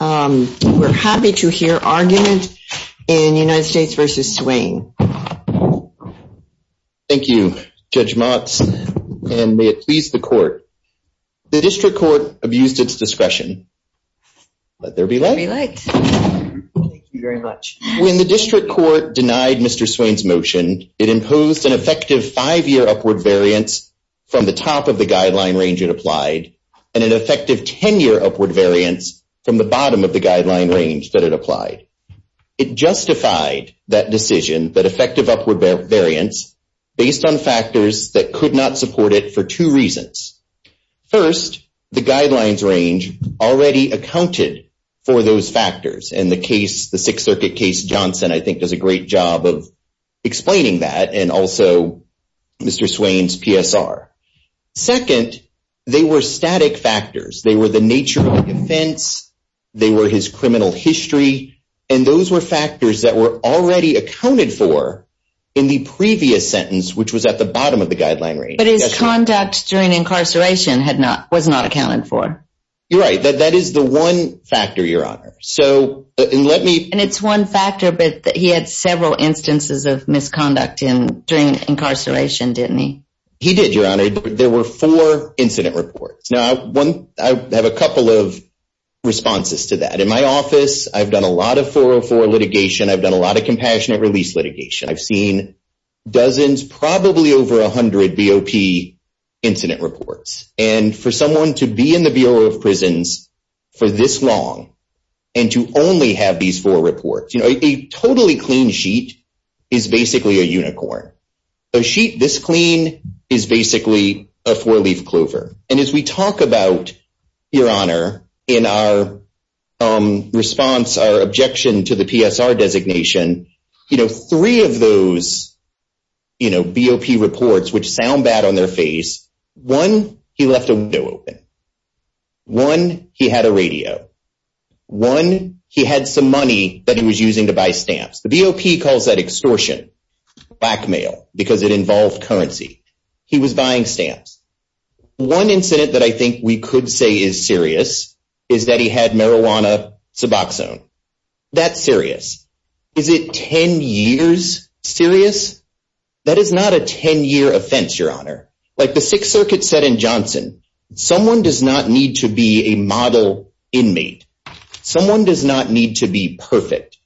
We're happy to hear arguments in United States v. Swain. Thank you, Judge Motz, and may it please the Court. The District Court abused its discretion. Let there be light. Thank you very much. When the District Court denied Mr. Swain's motion, it imposed an effective 5-year upward variance from the top of the guideline range it applied and an effective 10-year upward variance from the bottom of the guideline range that it applied. It justified that decision, that effective upward variance, based on factors that could not support it for two reasons. First, the guidelines range already accounted for those factors, and the case, the Sixth Circuit case, Johnson, I think does a great job of explaining that, and also Mr. Swain's PSR. Second, they were static factors. They were the nature of the offense, they were his criminal history, and those were factors that were already accounted for in the previous sentence, which was at the bottom of the guideline range. But his conduct during incarceration was not accounted for. You're right. That is the one factor, Your Honor. And it's one factor, but he had several instances of misconduct during incarceration, didn't he? He did, Your Honor. There were four incident reports. Now, I have a couple of responses to that. In my office, I've done a lot of 404 litigation. I've done a lot of compassionate release litigation. I've seen dozens, probably over 100 BOP incident reports. And for someone to be in the Bureau of Prisons for this long and to only have these four reports, you know, a totally clean sheet is basically a unicorn. A sheet this clean is basically a four-leaf clover. And as we talk about, Your Honor, in our response, our objection to the PSR designation, you know, three of those, you know, BOP reports, which sound bad on their face, one, he left a window open. One, he had a radio. One, he had some money that he was using to buy stamps. BOP calls that extortion, blackmail, because it involves currency. He was buying stamps. One incident that I think we could say is serious is that he had marijuana suboxone. That's serious. Is it 10 years serious? That is not a 10-year offense, Your Honor. Like the Sixth Circuit said in Johnson, someone does not need to be a model inmate. Someone does not need to be perfect.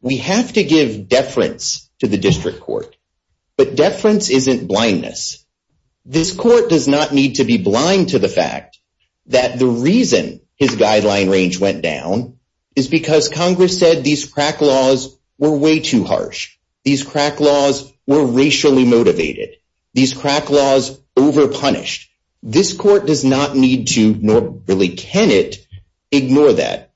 We have to give deference to the district court. But deference isn't blindness. This court does not need to be blind to the fact that the reason his guideline range went down is because Congress said these crack laws were way too harsh. These crack laws were racially motivated. These crack laws overpunished. This court does not need to nor really can it ignore that.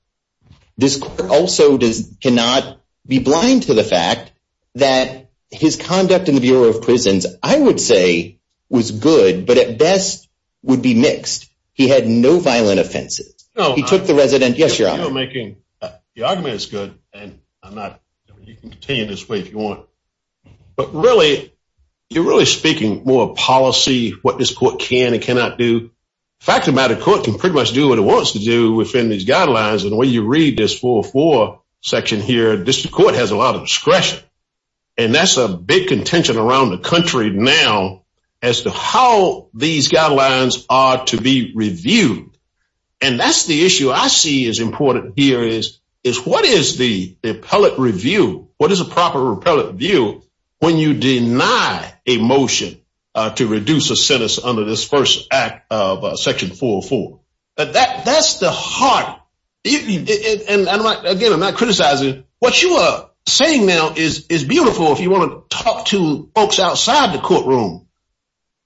This court also cannot be blind to the fact that his conduct in the Bureau of Prisons, I would say, was good, but at best would be mixed. He had no violent offenses. He took the residence. Yes, Your Honor. Your argument is good, and you can continue this way if you want. But really, you're really speaking more policy, what this court can and cannot do. The fact of the matter, the court can pretty much do what it wants to do within these guidelines. And when you read this 404 section here, the district court has a lot of discretion, and that's a big contention around the country now as to how these guidelines are to be reviewed. And that's the issue I see as important here is what is the appellate review? What is the proper appellate review when you deny a motion to reduce a sentence under this first act of section 404? That's the heart. And, again, I'm not criticizing. What you are saying now is beautiful if you want to talk to folks outside the courtroom,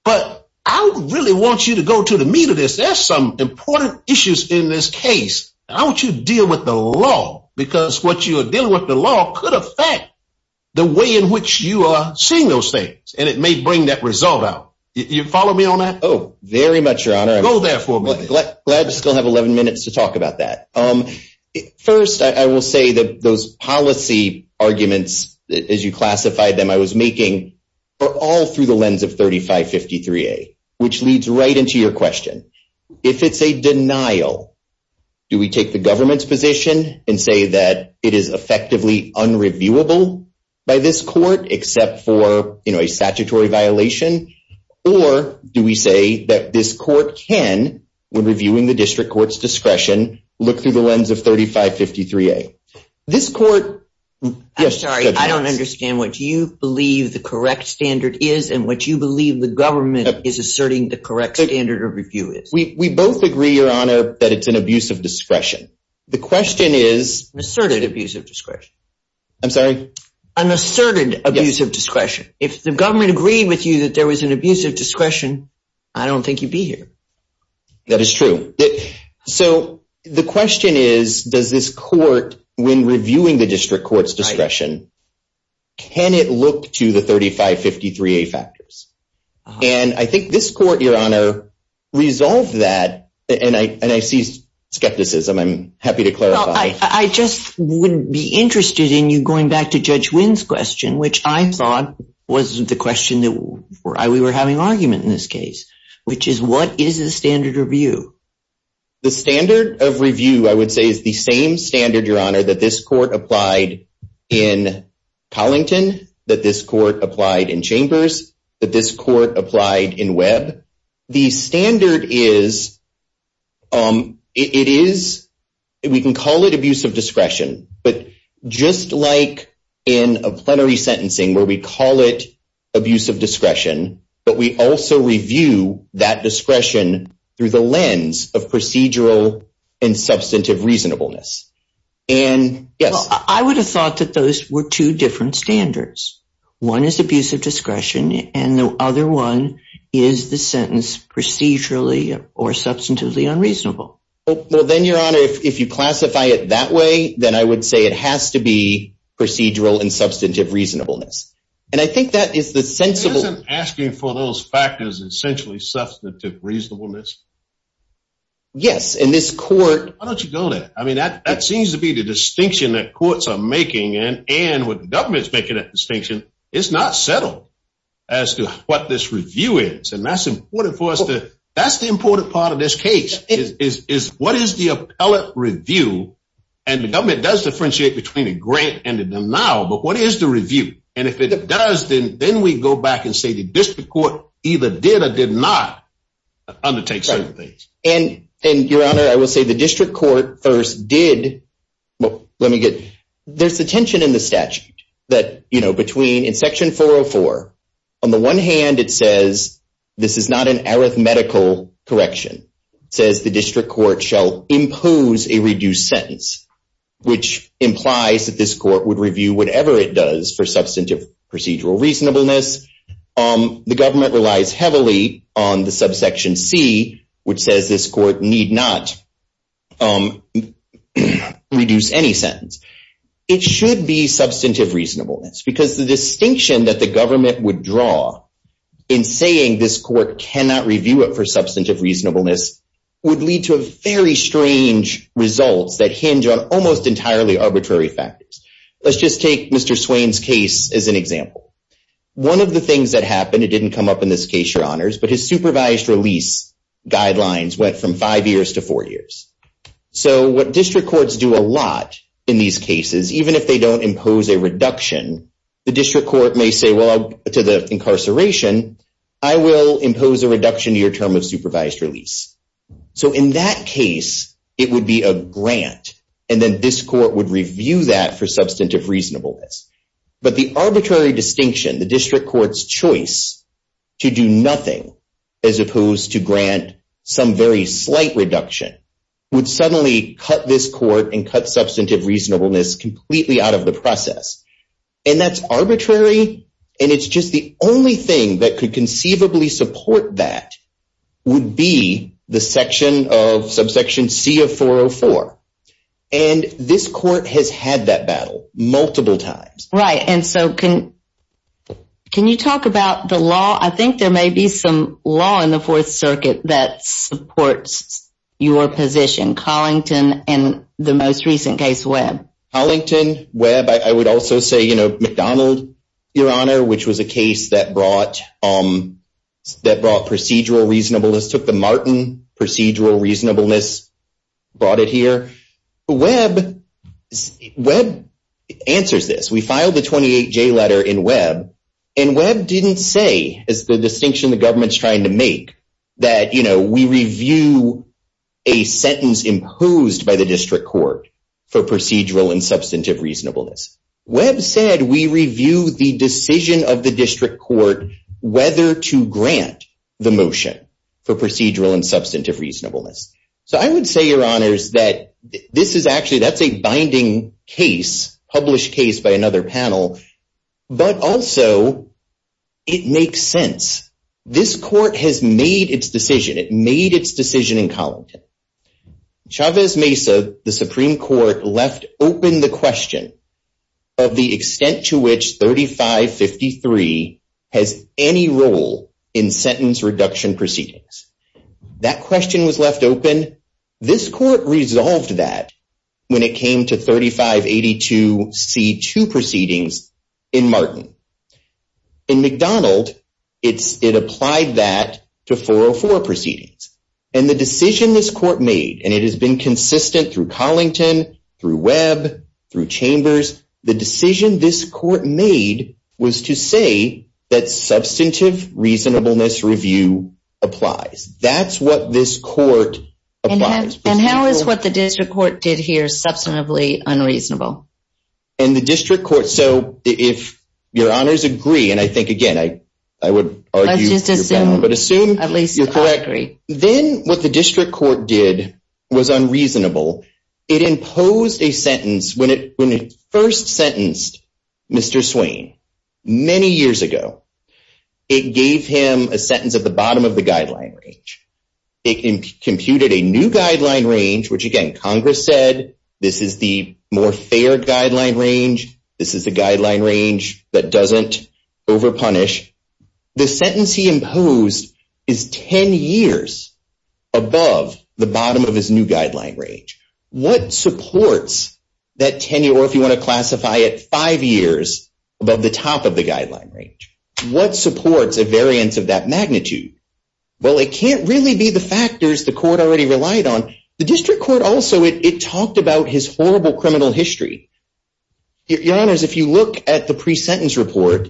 but I really want you to go to the meat of this. There's some important issues in this case. How would you deal with the law? Because what you are dealing with the law could affect the way in which you are seeing those things, and it may bring that result out. Do you follow me on that? Oh, very much, Your Honor. Go there for a minute. I still have 11 minutes to talk about that. First, I will say that those policy arguments, as you classified them, I was making are all through the lens of 3553A, which leads right into your question. If it's a denial, do we take the government's position and say that it is effectively unreviewable by this court, except for a statutory violation, or do we say that this court can, when reviewing the district court's discretion, look through the lens of 3553A? This court— We both agree, Your Honor, that it's an abuse of discretion. The question is— An asserted abuse of discretion. I'm sorry? An asserted abuse of discretion. If the government agreed with you that there was an abuse of discretion, I don't think you'd be here. That is true. So the question is, does this court, when reviewing the district court's discretion, can it look to the 3553A factors? And I think this court, Your Honor, resolved that, and I see skepticism. I'm happy to clarify. I just wouldn't be interested in you going back to Judge Wynn's question, which I thought was the question that we were having an argument in this case, which is, what is the standard of review? The standard of review, I would say, is the same standard, Your Honor, that this court applied in Collington, that this court applied in Chambers, that this court applied in Webb. The standard is—it is—we can call it abuse of discretion, but just like in a plenary sentencing where we call it abuse of discretion, but we also review that discretion through the lens of procedural and substantive reasonableness. I would have thought that those were two different standards. One is abuse of discretion, and the other one is the sentence procedurally or substantively unreasonable. Well, then, Your Honor, if you classify it that way, then I would say it has to be procedural and substantive reasonableness. And I think that is the sensible— You're asking for those factors, essentially substantive reasonableness? Yes, and this court— Why don't you go there? I mean, that seems to be the distinction that courts are making, and when the government's making that distinction, it's not settled as to what this review is. And that's important for us to—that's the important part of this case, is what is the appellate review? And the government does differentiate between the grant and the denial, but what is the review? And if it does, then we go back and say the district court either did or did not undertake certain things. And, Your Honor, I will say the district court first did—well, let me get—there's a tension in the statute that, you know, between—in Section 404, on the one hand, it says this is not an arithmetical correction. It says the district court shall impose a reduced sentence, which implies that this court would review whatever it does for substantive procedural reasonableness. The government relies heavily on the subsection C, which says this court need not reduce any sentence. It should be substantive reasonableness, because the distinction that the government would draw in saying this court cannot review it for substantive reasonableness would lead to a very strange result that hinge on almost entirely arbitrary factors. Let's just take Mr. Swain's case as an example. One of the things that happened—it didn't come up in this case, Your Honors, but his supervised release guidelines went from five years to four years. So what district courts do a lot in these cases, even if they don't impose a reduction, the district court may say, well, to the incarceration, I will impose a reduction to your term of supervised release. So in that case, it would be a grant, and then this court would review that for substantive reasonableness. But the arbitrary distinction, the district court's choice to do nothing as opposed to grant some very slight reduction, would suddenly cut this court and cut substantive reasonableness completely out of the process. And that's arbitrary, and it's just the only thing that could conceivably support that would be the subsection C of 404. And this court has had that battle multiple times. Right, and so can you talk about the law? I think there may be some law in the Fourth Circuit that supports your position, Collington and the most recent case, Webb. Collington, Webb, I would also say McDonald, Your Honor, which was a case that brought procedural reasonableness, took the Martin procedural reasonableness, brought it here. Webb answers this. We filed the 28J letter in Webb, and Webb didn't say, it's the distinction the government's trying to make, that we review a sentence imposed by the district court for procedural and substantive reasonableness. Webb said we review the decision of the district court whether to grant the motion for procedural and substantive reasonableness. So I would say, Your Honors, that this is actually, that's a binding case, published case by another panel, but also it makes sense. This court has made its decision. It made its decision in Collington. Chavez Mesa, the Supreme Court, left open the question of the extent to which 3553 has any role in sentence reduction proceedings. That question was left open. This court resolved that when it came to 3582C2 proceedings in Martin. In McDonald, it applied that to 404 proceedings. And the decision this court made, and it has been consistent through Collington, through Webb, through Chambers, the decision this court made was to say that substantive reasonableness review applies. That's what this court applies. And how is what the district court did here substantively unreasonable? And the district court, so if Your Honors agree, and I think, again, I would argue, but assume you're correct, then what the district court did was unreasonable. It imposed a sentence when it first sentenced Mr. Swain many years ago. It gave him a sentence at the bottom of the guideline range. It computed a new guideline range, which, again, Congress said this is the more fair guideline range. This is the guideline range that doesn't overpunish. The sentence he imposed is 10 years above the bottom of his new guideline range. What supports that 10 year, or if you want to classify it, five years above the top of the guideline range? What supports a variance of that magnitude? Well, it can't really be the factors the court already relied on. The district court also, it talked about his horrible criminal history. Your Honors, if you look at the pre-sentence report,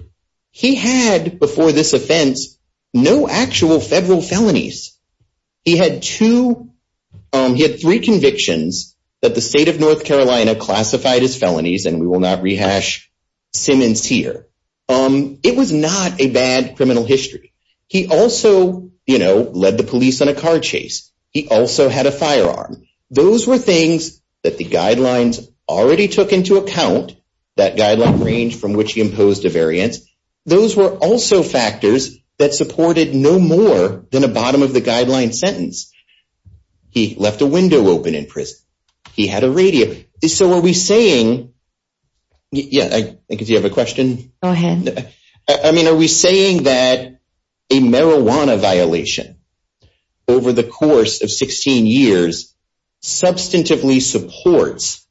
he had, before this offense, no actual federal felonies. He had two, he had three convictions that the state of North Carolina classified as felonies, and we will not rehash Simmons here. It was not a bad criminal history. He also, you know, led the police on a car chase. He also had a firearm. Those were things that the guidelines already took into account, that guideline range from which he imposed a variance. Those were also factors that supported no more than a bottom of the guideline sentence. He left a window open in prison. He had a radio. So are we saying, yeah, I think if you have a question. Go ahead. I mean, are we saying that a marijuana violation over the course of 16 years substantively supports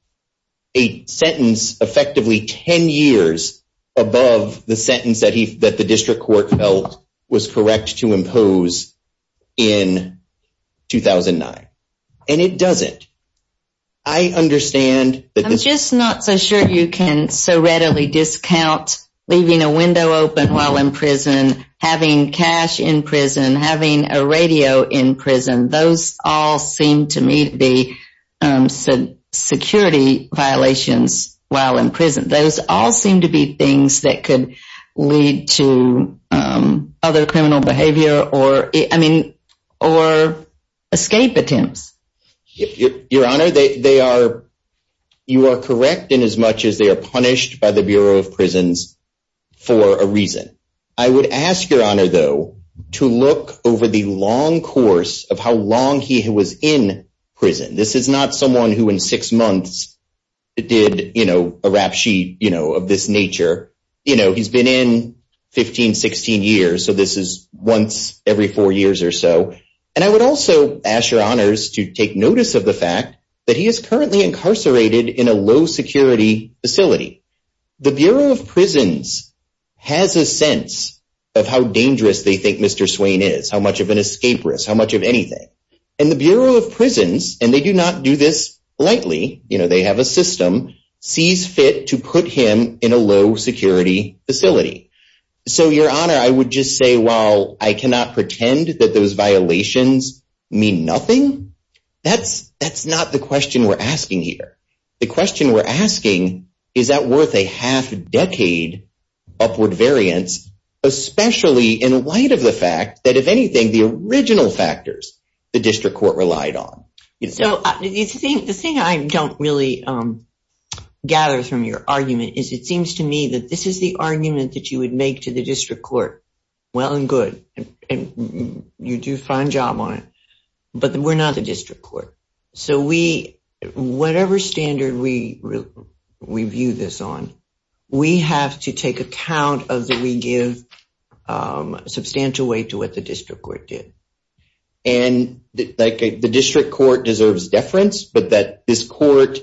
a sentence effectively 10 years above the sentence that the district court felt was correct to impose in 2009? And it doesn't. I understand. I'm just not so sure you can so readily discount leaving a window open while in prison, having cash in prison, having a radio in prison. Those all seem to me to be security violations while in prison. Those all seem to be things that could lead to other criminal behavior or, I mean, or escape attempts. Your Honor, they are. You are correct in as much as they are punished by the Bureau of Prisons for a reason. I would ask your honor, though, to look over the long course of how long he was in prison. This is not someone who in six months did a rap sheet of this nature. You know, he's been in 15, 16 years. So this is once every four years or so. And I would also ask your honors to take notice of the fact that he is currently incarcerated in a low security facility. The Bureau of Prisons has a sense of how dangerous they think Mr. Swain is, how much of an escape risk, how much of anything. And the Bureau of Prisons, and they do not do this lightly, you know, they have a system, sees fit to put him in a low security facility. So, your honor, I would just say, while I cannot pretend that those violations mean nothing, that's not the question we're asking here. The question we're asking, is that worth a half decade upward variance, especially in light of the fact that, if anything, the original factors the district court relied on. The thing I don't really gather from your argument is it seems to me that this is the argument that you would make to the district court. Well and good. You do a fine job on it. But we're not the district court. So we, whatever standard we view this on, we have to take account of the we give substantial weight to what the district court did. And the district court deserves deference, but that this court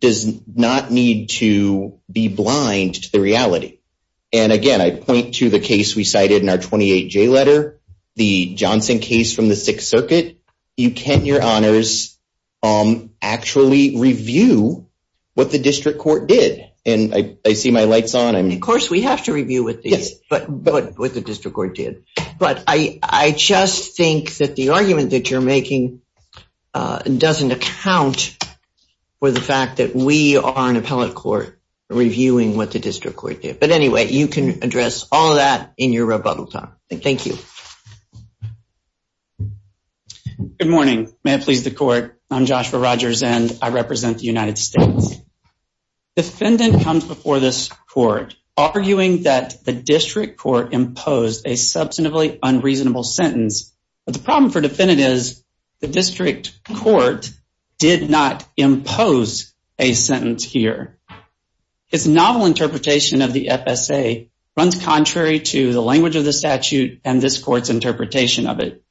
does not need to be blind to the reality. And again, I point to the case we cited in our 28-J letter, the Johnson case from the Sixth Circuit. You can't, your honors, actually review what the district court did. And I see my lights on. Of course we have to review what the district court did. But I just think that the argument that you're making doesn't account for the fact that we are an appellate court reviewing what the district court did. But anyway, you can address all of that in your rebuttal time. Thank you. Good morning. May it please the court. I'm Joshua Rogers, and I represent the United States. Defendant comes before this court, arguing that the district court imposed a substantively unreasonable sentence. The problem for defendant is the district court did not impose a sentence here. Its novel interpretation of the FSA runs contrary to the language of the statute and this court's interpretation of it.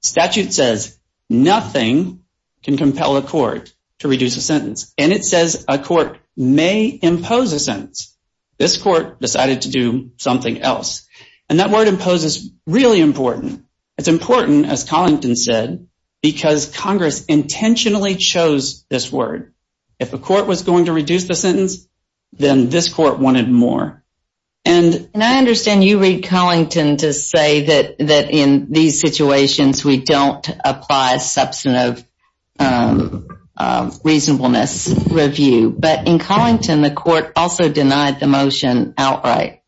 Statute says nothing can compel a court to reduce a sentence. And it says a court may impose a sentence. This court decided to do something else. And that word impose is really important. It's important, as Collington said, because Congress intentionally chose this word. If a court was going to reduce the sentence, then this court wanted more. And I understand you read Collington to say that in these situations we don't apply substantive reasonableness review. But in Collington, the court also denied the motion outright.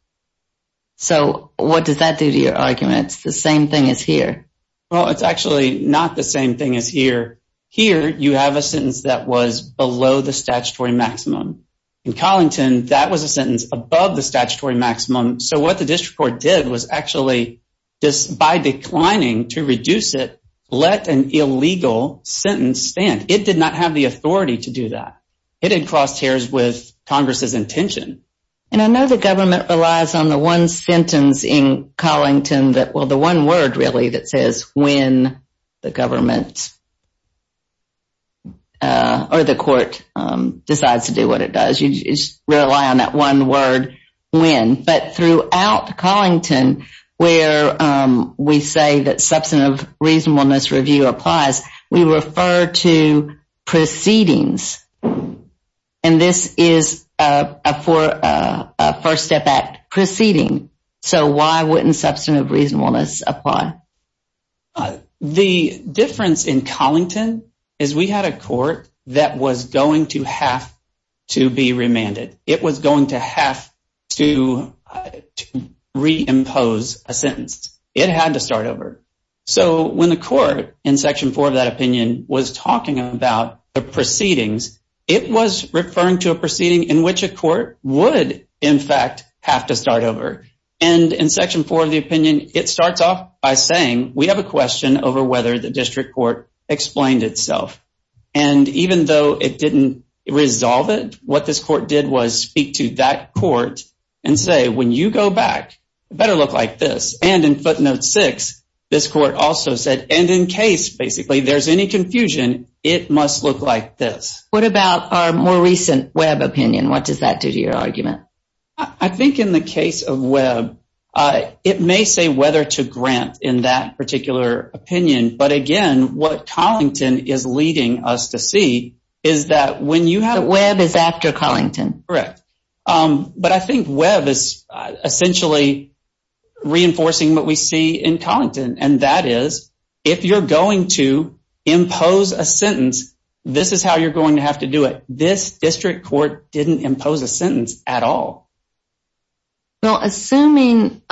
So what does that do to your argument? It's the same thing as here. Well, it's actually not the same thing as here. Here, you have a sentence that was below the statutory maximum. In Collington, that was a sentence above the statutory maximum. So what the district court did was actually just by declining to reduce it, let an illegal sentence stand. It did not have the authority to do that. It had crossed hairs with Congress's intention. And I know the government relies on the one sentence in Collington that, well, the one word really that says when the government or the court decides to do what it does. You rely on that one word, when. But throughout Collington, where we say that substantive reasonableness review applies, we refer to proceedings. And this is a First Step Act proceeding. So why wouldn't substantive reasonableness apply? The difference in Collington is we had a court that was going to have to be remanded. It was going to have to reimpose a sentence. It had to start over. So when the court in Section 4 of that opinion was talking about the proceedings, it was referring to a proceeding in which a court would, in fact, have to start over. And in Section 4 of the opinion, it starts off by saying, we have a question over whether the district court explained itself. And even though it didn't resolve it, what this court did was speak to that court and say, when you go back, it better look like this. And in footnote 6, this court also said, and in case, basically, there's any confusion, it must look like this. What about our more recent Webb opinion? What does that do to your argument? I think in the case of Webb, it may say whether to grant in that particular opinion. But again, what Collington is leading us to see is that when you have… Webb is after Collington. Correct. But I think Webb is essentially reinforcing what we see in Collington, and that is, if you're going to impose a sentence, this is how you're going to have to do it. This district court didn't impose a sentence at all. Now, assuming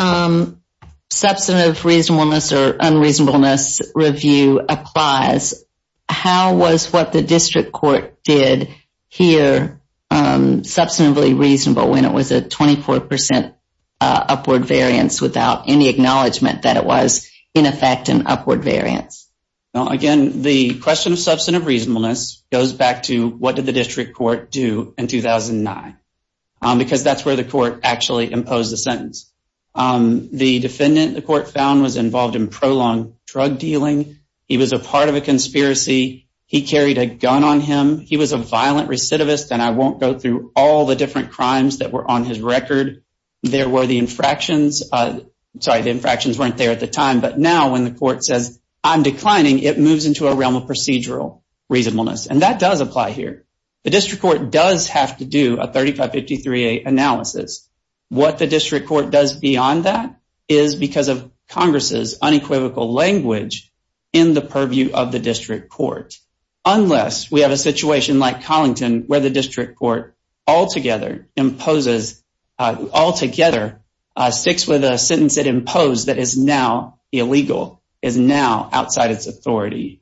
substantive reasonableness or unreasonableness review applies, how was what the district court did here substantively reasonable when it was a 24% upward variance without any acknowledgement that it was, in effect, an upward variance? Again, the question of substantive reasonableness goes back to what did the district court do in 2009? Because that's where the court actually imposed the sentence. The defendant, the court found, was involved in prolonged drug dealing. He was a part of a conspiracy. He carried a gun on him. He was a violent recidivist, and I won't go through all the different crimes that were on his record. There were the infractions. Sorry, the infractions weren't there at the time. But now, when the court says, I'm declining, it moves into a realm of procedural reasonableness, and that does apply here. The district court does have to do a 3553A analysis. What the district court does beyond that is because of Congress's unequivocal language in the purview of the district court, unless we have a situation like Collington where the district court altogether imposes, altogether sticks with a sentence it imposed that is now illegal, is now outside its authority.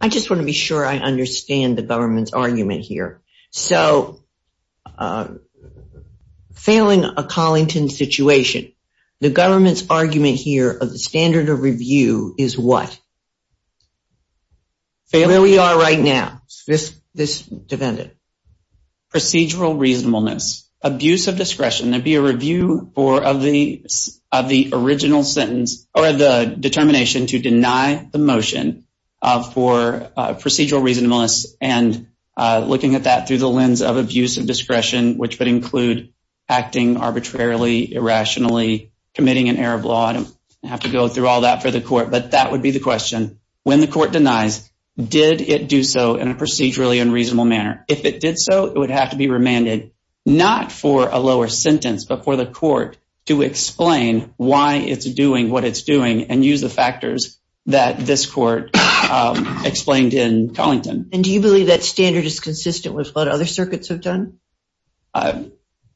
I just want to be sure I understand the government's argument here. So, failing a Collington situation, the government's argument here of the standard of review is what? Where we are right now, this defendant. Procedural reasonableness, abuse of discretion, there'd be a review of the original sentence or the determination to deny the motion for procedural reasonableness and looking at that through the lens of abuse of discretion, which would include acting arbitrarily, irrationally, committing an error of law. I don't have to go through all that for the court, but that would be the question. When the court denies, did it do so in a procedurally unreasonable manner? If it did so, it would have to be remanded, not for a lower sentence, but for the court to explain why it's doing what it's doing and use the factors that this court explained in Collington. And do you believe that standard is consistent with what other circuits have done?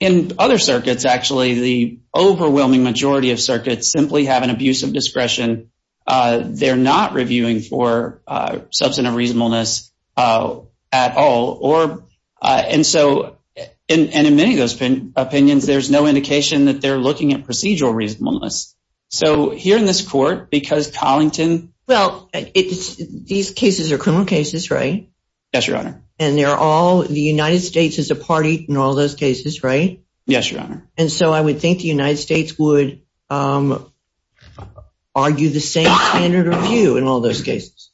In other circuits, actually, the overwhelming majority of circuits simply have an abuse of discretion. They're not reviewing for substantive reasonableness at all. And in many of those opinions, there's no indication that they're looking at procedural reasonableness. So here in this court, because Collington- Well, these cases are criminal cases, right? Yes, Your Honor. And the United States is a party in all those cases, right? Yes, Your Honor. And so I would think the United States would argue the same standard of review in all those cases.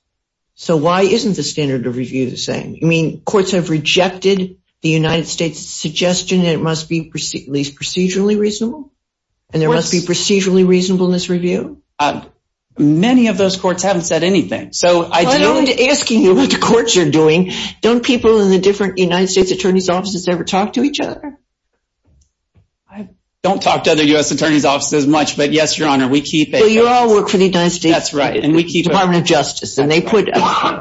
So why isn't the standard of review the same? I mean, courts have rejected the United States' suggestion that it must be at least procedurally reasonable, and there must be procedurally reasonableness review? Many of those courts haven't said anything. So I'm asking you what the courts are doing. Don't people in the different United States attorneys' offices ever talk to each other? I don't talk to other U.S. attorneys' offices as much, but yes, Your Honor, we keep- Well, you all work for the United States Department of Justice, and they put-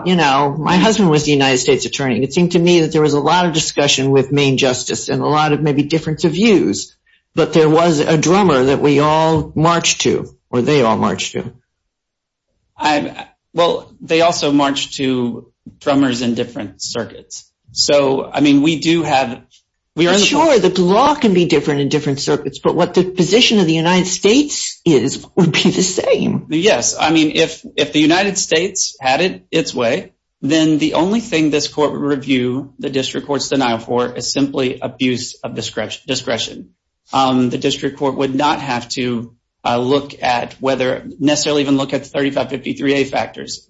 You know, my husband was the United States attorney. It seemed to me that there was a lot of discussion with Maine Justice and a lot of maybe different views. But there was a drummer that we all marched to, or they all marched to. Well, they also marched to drummers in different circuits. So, I mean, we do have- Sure, the law can be different in different circuits, but what the position of the United States is would be the same. Yes, I mean, if the United States had it its way, then the only thing this court would review the district court's denial for is simply abuse of discretion. The district court would not have to look at whether- necessarily even look at 3553A factors.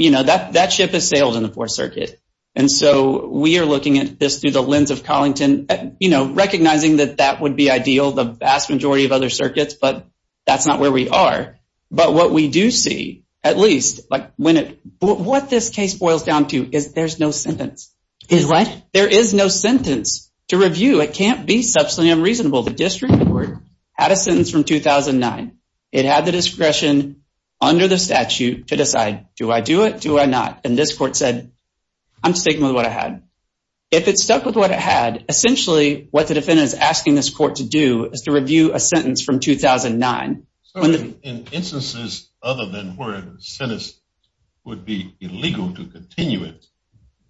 You know, that ship has sailed in the Fourth Circuit, and so we are looking at this through the lens of Collington, you know, recognizing that that would be ideal, the vast majority of other circuits, but that's not where we are. But what we do see, at least, like when it's- What this case boils down to is there's no sentence. Excuse me, what? There is no sentence to review. It can't be substantially unreasonable. Well, the district court had a sentence from 2009. It had the discretion under the statute to decide, do I do it, do I not? And this court said, I'm sticking with what I had. If it stuck with what it had, essentially what the defendant is asking this court to do is to review a sentence from 2009. So in instances other than where the sentence would be illegal to continue it,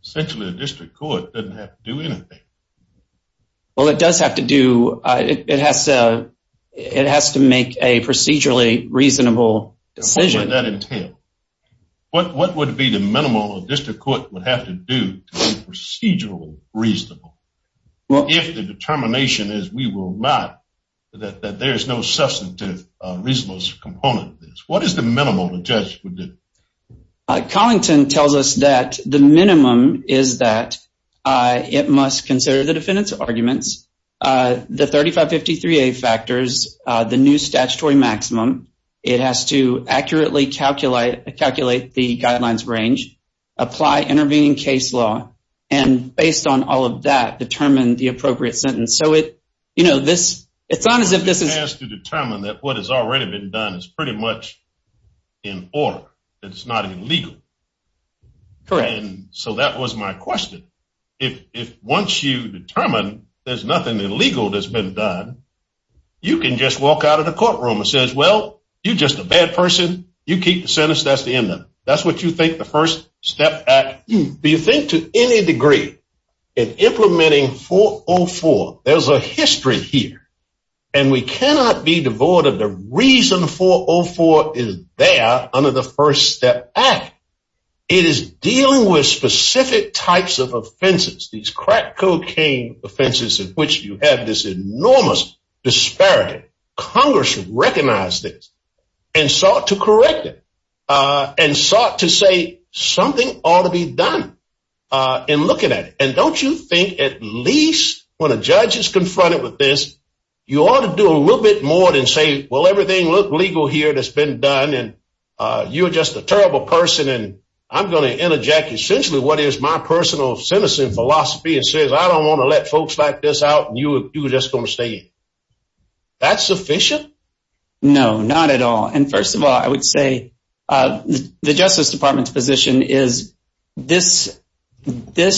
essentially the district court doesn't have to do anything. Well, it does have to do- It has to make a procedurally reasonable decision. What would that entail? What would be the minimum the district court would have to do to be procedurally reasonable? Well- If the determination is we will not, that there's no substantive reasonable component to this. What is the minimum the judge would do? Collington tells us that the minimum is that it must consider the defendant's arguments, the 3553A factors, the new statutory maximum. It has to accurately calculate the guidelines range, apply intervening case law, and based on all of that, determine the appropriate sentence. It's on the defendant- It has to determine that what has already been done is pretty much in order. It's not illegal. Correct. So that was my question. If once you determine there's nothing illegal that's been done, you can just walk out of the courtroom and say, well, you're just a bad person. You keep the sentence. That's the end of it. That's what you think the First Step Act- Do you think to any degree in implementing 404, there's a history here, and we cannot be devoid of the reason 404 is there under the First Step Act. It is dealing with specific types of offenses, these crack cocaine offenses in which you have this enormous disparity. Congress should recognize this and start to correct it. And start to say something ought to be done in looking at it. And don't you think at least when a judge is confronted with this, you ought to do a little bit more than say, well, everything looked legal here that's been done, and you're just a terrible person, and I'm going to interject essentially what is my personal sentencing philosophy and say, I don't want to let folks like this out, and you're just going to say it. That's sufficient? No, not at all. And first of all, I would say the Justice Department's position is this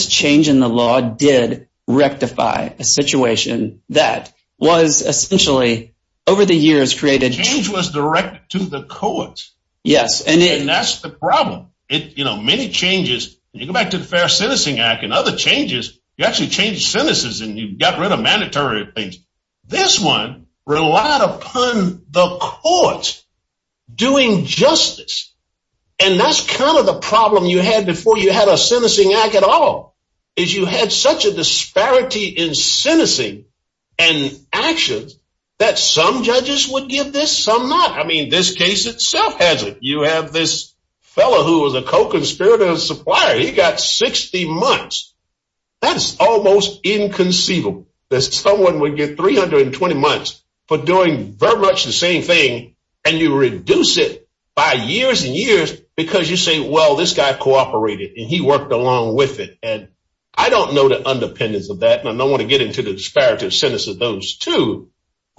change in the law did rectify a situation that was essentially over the years created- Change was directed to the courts. Yes. And that's the problem. Many changes, you go back to the Fair Sentencing Act and other changes, you actually change sentences and you got rid of mandatory things. This one relied upon the courts doing justice. And that's kind of the problem you had before you had a sentencing act at all, is you had such a disparity in sentencing and actions that some judges would give this, some not. I mean, this case itself has it. You have this fellow who was a co-conspirator and supplier. He got 60 months. That's almost inconceivable that someone would get 320 months for doing very much the same thing and you reduce it by years and years because you say, well, this guy cooperated and he worked along with it. And I don't know the underpinnings of that, and I don't want to get into the disparities of those two,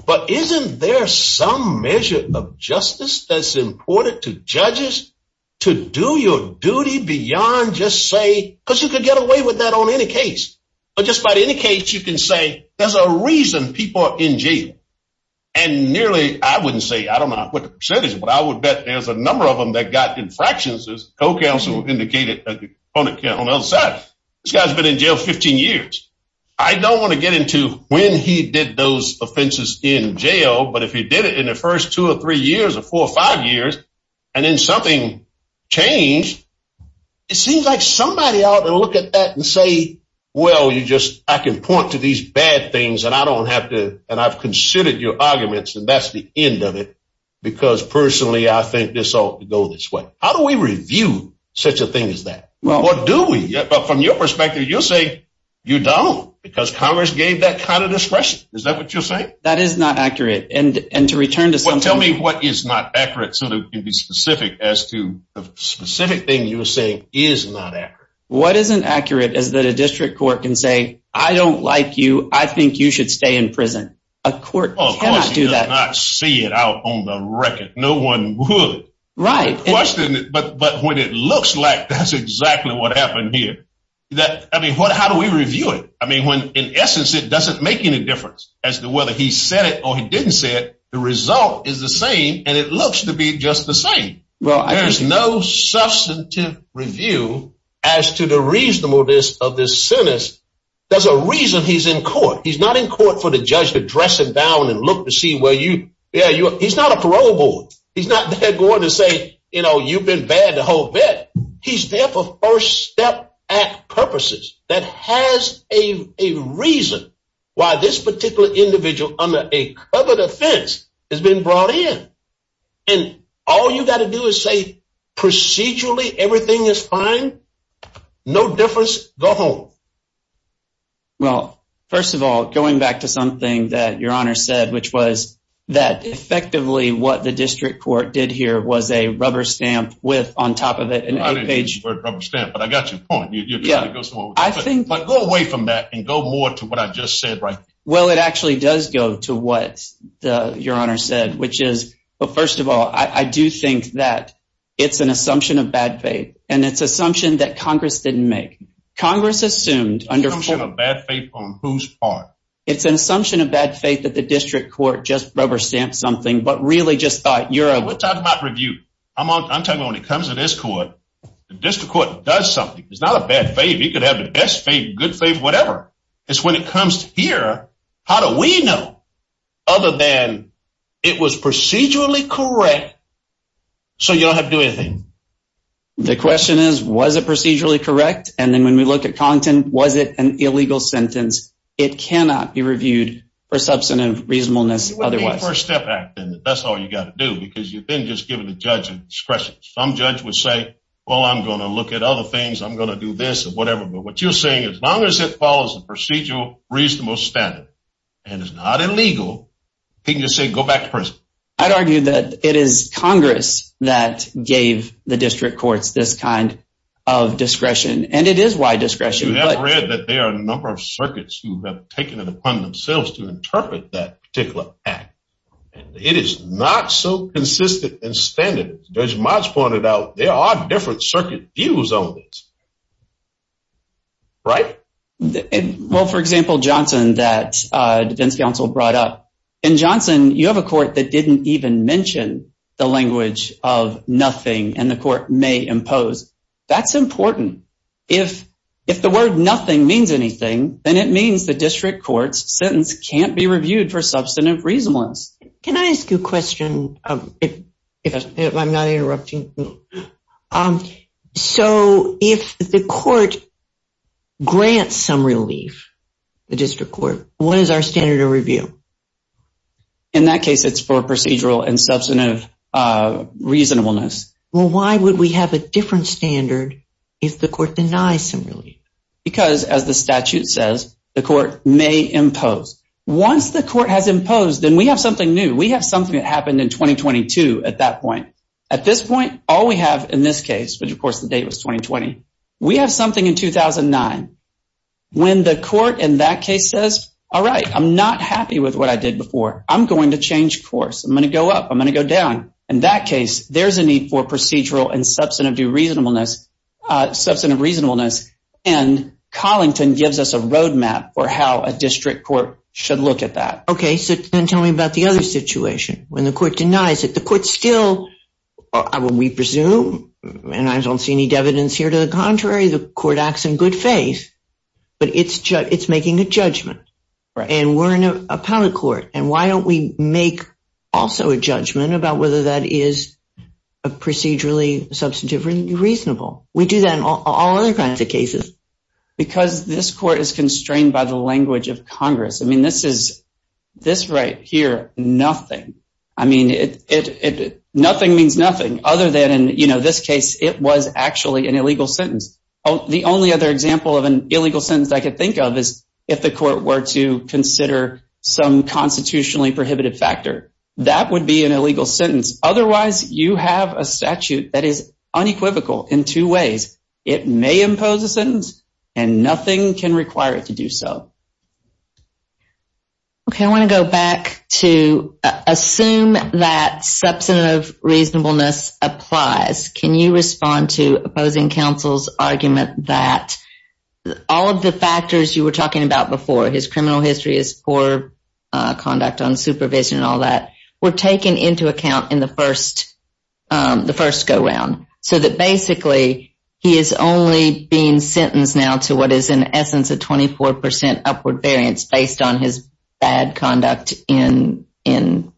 but isn't there some measure of justice that's important to judges to do your duty beyond just say, because you could get away with that on any case. But just by any case, you can say there's a reason people are in jail. And nearly, I wouldn't say, I don't know what the percentage is, but I would bet there's a number of them that got infractions, as the co-counsel indicated on the other side. This guy's been in jail 15 years. I don't want to get into when he did those offenses in jail, but if you did it in the first two or three years or four or five years, and then something changed, it seems like somebody ought to look at that and say, well, you just, I can point to these bad things and I don't have to, and I've considered your arguments and that's the end of it. Because personally, I think this ought to go this way. How do we review such a thing as that? From your perspective, you'll say you don't, because Congress gave that kind of discretion. Is that what you're saying? That is not accurate. And to return to- Tell me what is not accurate so that you can be specific as to the specific thing you're saying is not accurate. What isn't accurate is that a district court can say, I don't like you. I think you should stay in prison. A court cannot do that. You cannot see it out on the record. No one would. Right. But what it looks like, that's exactly what happened here. I mean, how do we review it? I mean, in essence, it doesn't make any difference as to whether he said it or he didn't say it. The result is the same, and it looks to be just the same. There's no substantive review as to the reasonableness of this sentence. There's a reason he's in court. He's not in court for the judge to dress him down and look to see, well, he's not a parole board. He's not there to say, you know, you've been bad the whole bit. He's there for First Step Act purposes. That has a reason why this particular individual under a covered offense has been brought in. And all you've got to do is say procedurally everything is fine. No difference at all. Well, first of all, going back to something that Your Honor said, which was that effectively what the district court did here was a rubber stamp with on top of it. I didn't mean to use the word rubber stamp, but I got your point. Go away from that and go more to what I just said. Well, it actually does go to what Your Honor said, which is, well, first of all, I do think that it's an assumption of bad faith, and it's an assumption that Congress didn't make. It's an assumption of bad faith on whose part? It's an assumption of bad faith that the district court just rubber stamped something, but really just thought, Your Honor. We're talking about review. I'm talking about when it comes to this court, the district court does something. It's not a bad faith. It could have the best faith, good faith, whatever. It's when it comes here, how do we know other than it was procedurally correct, so you don't have to do anything? The question is, was it procedurally correct? And then when we look at content, was it an illegal sentence? It cannot be reviewed for substantive reasonableness otherwise. It would be a First Step Act, and that's all you got to do, because you've been just given the judge's discretion. Some judge would say, oh, I'm going to look at other things. I'm going to do this or whatever. But what you're saying is, as long as it follows the procedural, reasonable standard and is not illegal, you can just say, go back to prison. I'd argue that it is Congress that gave the district courts this kind of discretion, and it is wide discretion. We have read that there are a number of circuits who have taken it upon themselves to interpret that particular act. It is not so consistent in standards. Judge Mott's pointed out there are different circuit views on this, right? Well, for example, Johnson, that the defense counsel brought up. In Johnson, you have a court that didn't even mention the language of nothing, and the court may impose. That's important. If the word nothing means anything, then it means the district court's sentence can't be reviewed for substantive reasonableness. Can I ask you a question? I'm not interrupting. So, if the court grants some relief, the district court, what is our standard of review? In that case, it's for procedural and substantive reasonableness. Well, why would we have a different standard if the court denies some relief? Because, as the statute says, the court may impose. Once the court has imposed, then we have something new. We have something that happened in 2022 at that point. At this point, all we have in this case, which, of course, the date is 2020, we have something in 2009. When the court in that case says, all right, I'm not happy with what I did before. I'm going to change course. I'm going to go up. I'm going to go down. In that case, there's a need for procedural and substantive reasonableness, and Collington gives us a roadmap for how a district court should look at that. Okay, so then tell me about the other situation. When the court denies, if the court still, we presume, and I don't see any evidence here to the contrary, the court acts in good faith, but it's making a judgment. And we're an appellate court, and why don't we make also a judgment about whether that is procedurally, substantively reasonable? We do that in all other kinds of cases. Because this court is constrained by the language of Congress. I mean, this is, this right here, nothing. I mean, nothing means nothing other than, you know, this case, it was actually an illegal sentence. The only other example of an illegal sentence I could think of is if the court were to consider some constitutionally prohibited factor. That would be an illegal sentence. Otherwise, you have a statute that is unequivocal in two ways. It may impose a sentence, and nothing can require it to do so. Okay, I want to go back to assume that substantive reasonableness applies. Can you respond to opposing counsel's argument that all of the factors you were talking about before, his criminal history, his poor conduct on supervision and all that, were taken into account in the first go around? So that basically he is only being sentenced now to what is in essence a 24% upward variance based on his bad conduct in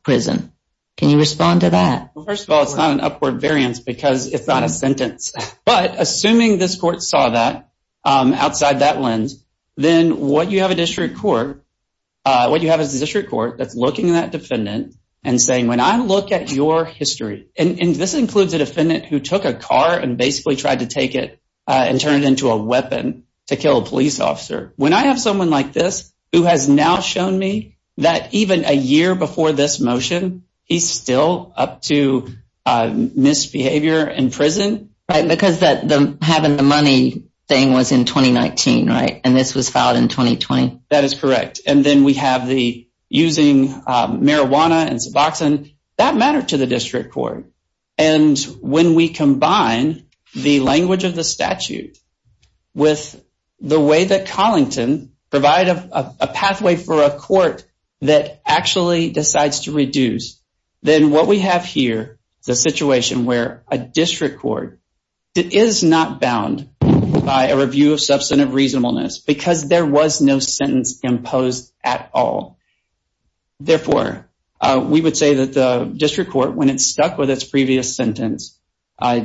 prison. Can you respond to that? Well, first of all, it's not an upward variance because it's not a sentence. But assuming this court saw that outside that lens, then what you have is a district court that's looking at that defendant and saying, when I look at your history, and this includes a defendant who took a car and basically tried to take it and turn it into a weapon to kill a police officer. When I have someone like this who has now shown me that even a year before this motion, he's still up to misbehavior in prison. Right, because having the money thing was in 2019, right? And this was filed in 2020. That is correct. And then we have the using marijuana and suboxone. That mattered to the district court. And when we combine the language of the statute with the way that Collington provided a pathway for a court that actually decides to reduce, then what we have here is a situation where a district court is not bound by a review of substantive reasonableness because there was no sentence imposed at all. Therefore, we would say that the district court, when it stuck with its previous sentence,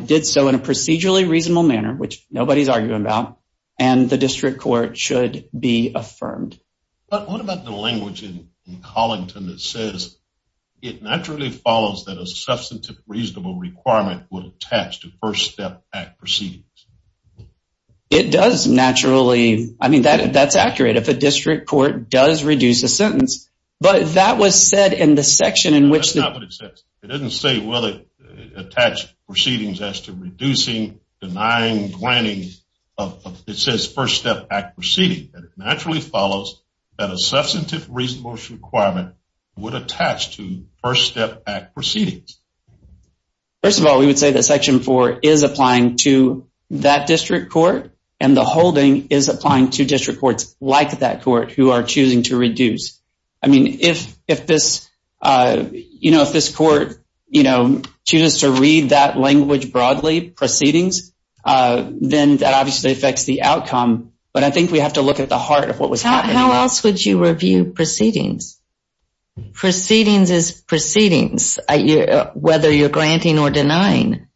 did so in a procedurally reasonable manner, which nobody's arguing about, and the district court should be affirmed. But what about the language in Collington that says it naturally follows that a substantive reasonable requirement would attach to First Step Act proceedings? It does naturally. I mean, that's accurate. If a district court does reduce a sentence, but that was said in the section in which... It didn't say, well, it attached proceedings as to reducing, denying, denying. It says First Step Act proceedings. It naturally follows that a substantive reasonable requirement would attach to First Step Act proceedings. First of all, we would say that Section 4 is applying to that district court, and the holding is applying to district courts like that court who are choosing to reduce. I mean, if this court chooses to read that language broadly, proceedings, then that obviously affects the outcome, but I think we have to look at the heart of what was happening. How else would you review proceedings? Proceedings is proceedings, whether you're granting or denying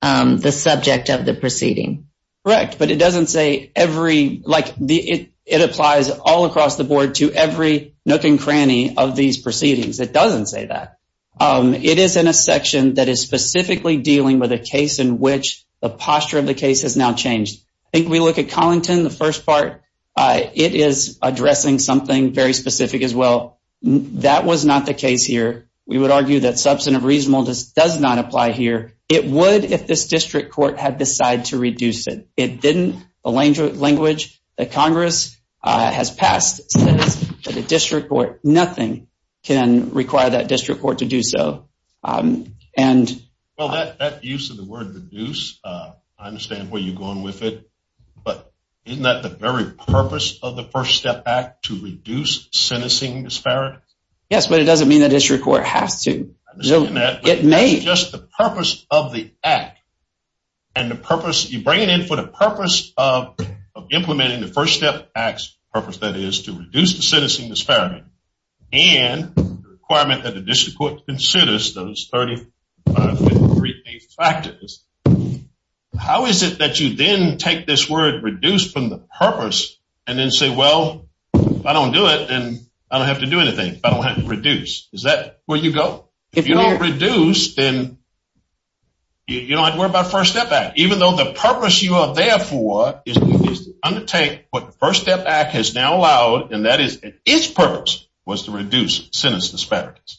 the subject of the proceeding. Correct, but it doesn't say every, like, it applies all across the board to every nook and cranny of these proceedings. It doesn't say that. It is in a section that is specifically dealing with a case in which the posture of the case has now changed. I think we look at Collington, the first part, it is addressing something very specific as well. That was not the case here. We would argue that substantive reasonable does not apply here. It would if this district court had decided to reduce it. It didn't, the language that Congress has passed to the district court, nothing can require that district court to do so. Well, that use of the word reduce, I understand where you're going with it, but isn't that the very purpose of the First Step Act to reduce sentencing disparity? Yes, but it doesn't mean that district court has to. It's just the purpose of the act, and the purpose, you bring it in for the purpose of implementing the First Step Act's purpose, that is, to reduce the sentencing disparity, and the requirement that the district court considers those thirty-five, thirty-eight factors. How is it that you then take this word reduce from the purpose and then say, well, if I don't do it, then I don't have to do anything. I don't have to reduce. Is that where you go? If you don't reduce, then you don't have to worry about the First Step Act, even though the purpose you are there for is to undertake what the First Step Act has now allowed, and that is, its purpose was to reduce sentencing disparities.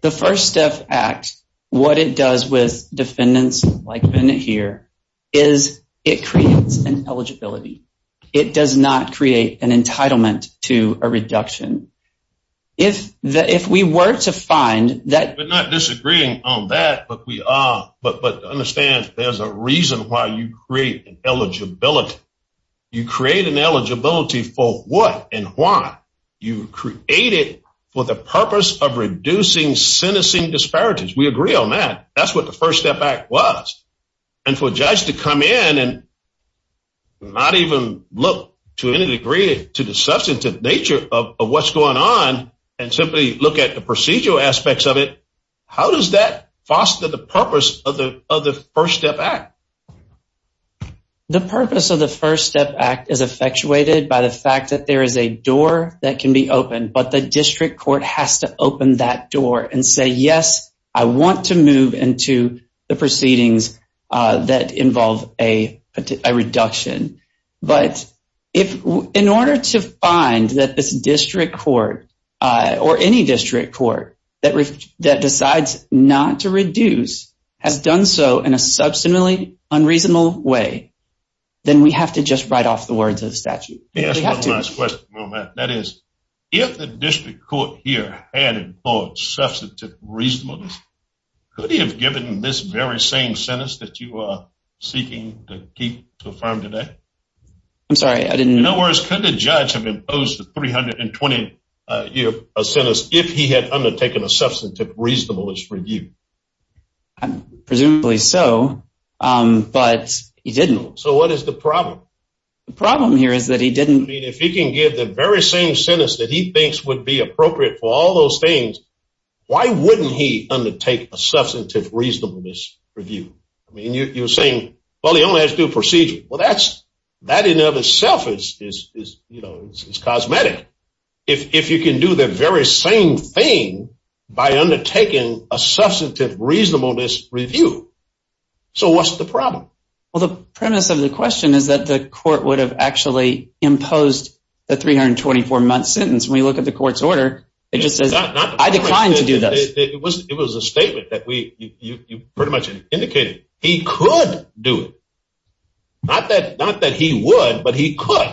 The First Step Act, what it does with defendants like Bennett here, is it creates an eligibility. It does not create an entitlement to a reduction. We're not disagreeing on that, but understand there's a reason why you create an eligibility. You create an eligibility for what and why? You create it for the purpose of reducing sentencing disparities. We agree on that. That's what the First Step Act was, and for a judge to come in and not even look to any degree to the substantive nature of what's going on and simply look at the procedural aspects of it, how does that foster the purpose of the First Step Act? The purpose of the First Step Act is effectuated by the fact that there is a door that can be opened, but the district court has to open that door and say, yes, I want to move into the proceedings that involve a reduction. But in order to find that the district court or any district court that decides not to reduce has done so in a substantively unreasonable way, then we have to just write off the words of the statute. One last question on that. That is, if the district court here had enforced substantive reasonableness, could he have given this very same sentence that you are seeking to affirm today? I'm sorry, I didn't… In other words, could the judge have imposed a 320-year sentence if he had undertaken a substantive reasonableness review? Presumably so, but he didn't. So what is the problem? The problem here is that he didn't… I mean, if he can give the very same sentence that he thinks would be appropriate for all those things, why wouldn't he undertake a substantive reasonableness review? I mean, you're saying, well, he only has to do a procedure. Well, that in and of itself is cosmetic. If you can do the very same thing by undertaking a substantive reasonableness review, so what's the problem? Well, the premise of the question is that the court would have actually imposed the 324-month sentence. When we look at the court's order, it just says, I decline to do that. It was a statement that you pretty much indicated. He could do it. Not that he would, but he could.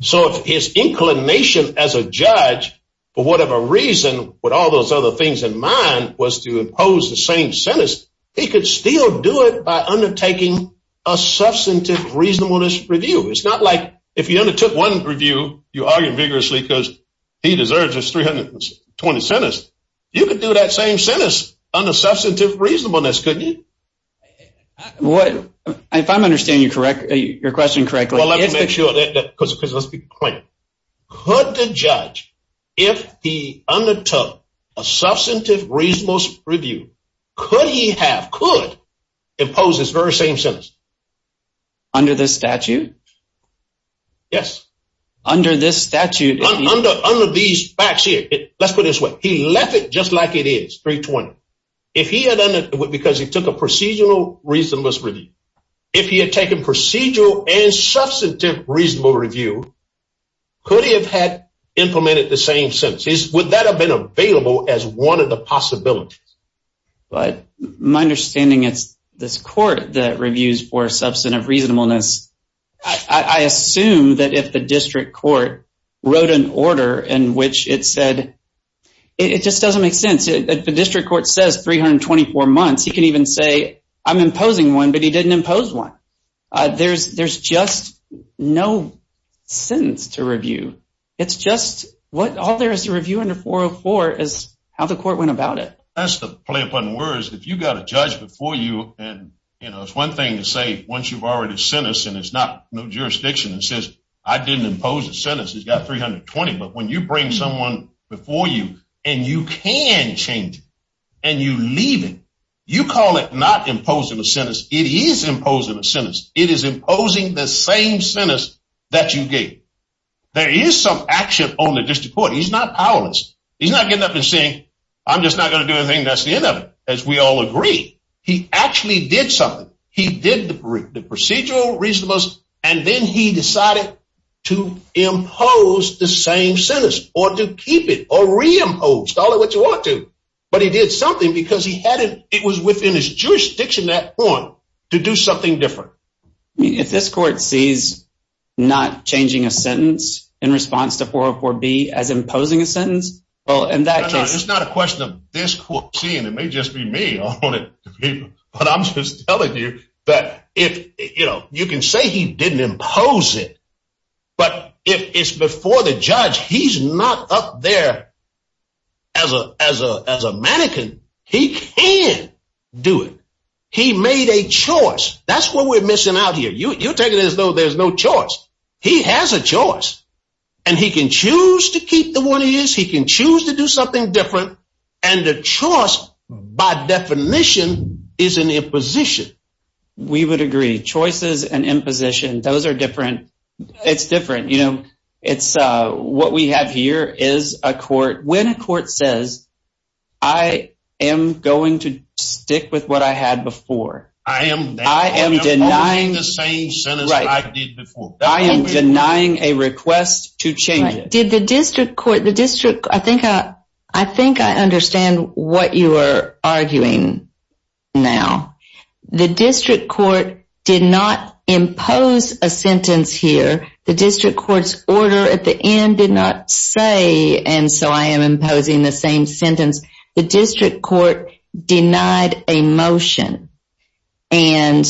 So his inclination as a judge, for whatever reason, with all those other things in mind, was to impose the same sentence. He could still do it by undertaking a substantive reasonableness review. It's not like if you undertook one review, you argued vigorously because he deserves his 320th sentence. You could do that same sentence under substantive reasonableness, couldn't you? If I'm understanding your question correctly… Let's be clear. Could the judge, if he undertook a substantive reasonableness review, could he have, could impose this very same sentence? Under the statute? Yes. Under this statute? Under these facts here. Let's put it this way. He left it just like it is, 320. Because he took a procedural reasonableness review. If he had taken procedural and substantive reasonable review, could he have implemented the same sentence? Would that have been available as one of the possibilities? My understanding is this court that reviews for substantive reasonableness, I assume that if the district court wrote an order in which it said… It just doesn't make sense. If the district court says 324 months, he can even say, I'm imposing one, but he didn't impose one. There's just no sentence to review. It's just, all there is to review under 404 is how the court went about it. That's the play on words. If you've got a judge before you, and it's one thing to say once you've already sentenced and there's no jurisdiction, and says, I didn't impose a sentence, he's got 320, but when you bring someone before you, and you can change it, and you leave it, you call it not imposing a sentence. It is imposing a sentence. It is imposing the same sentence that you did. There is some action on the district court. He's not powerless. He's not getting up and saying, I'm just not going to do anything, that's the end of it. As we all agree, he actually did something. He did the procedural reasonableness, and then he decided to impose the same sentence, or to keep it, or reimpose, call it what you want to. But he did something because it was within his jurisdiction at that point to do something different. If this court sees not changing a sentence in response to 404B as imposing a sentence… It's not a question of this court seeing. It may just be me. I'm just telling you. You can say he didn't impose it, but if it's before the judge, he's not up there as a mannequin. He can do it. He made a choice. That's what we're missing out here. You take it as though there's no choice. He has a choice, and he can choose to keep the one he is. He can choose to do something different, and the choice, by definition, is an imposition. We would agree. Choices and imposition, those are different. It's different. What we have here is a court. When a court says, I am going to stick with what I had before. I am denying the same sentence I did before. I am denying a request to change it. I think I understand what you are arguing now. The district court did not impose a sentence here. The district court's order at the end did not say, and so I am imposing the same sentence. The district court denied a motion. I'm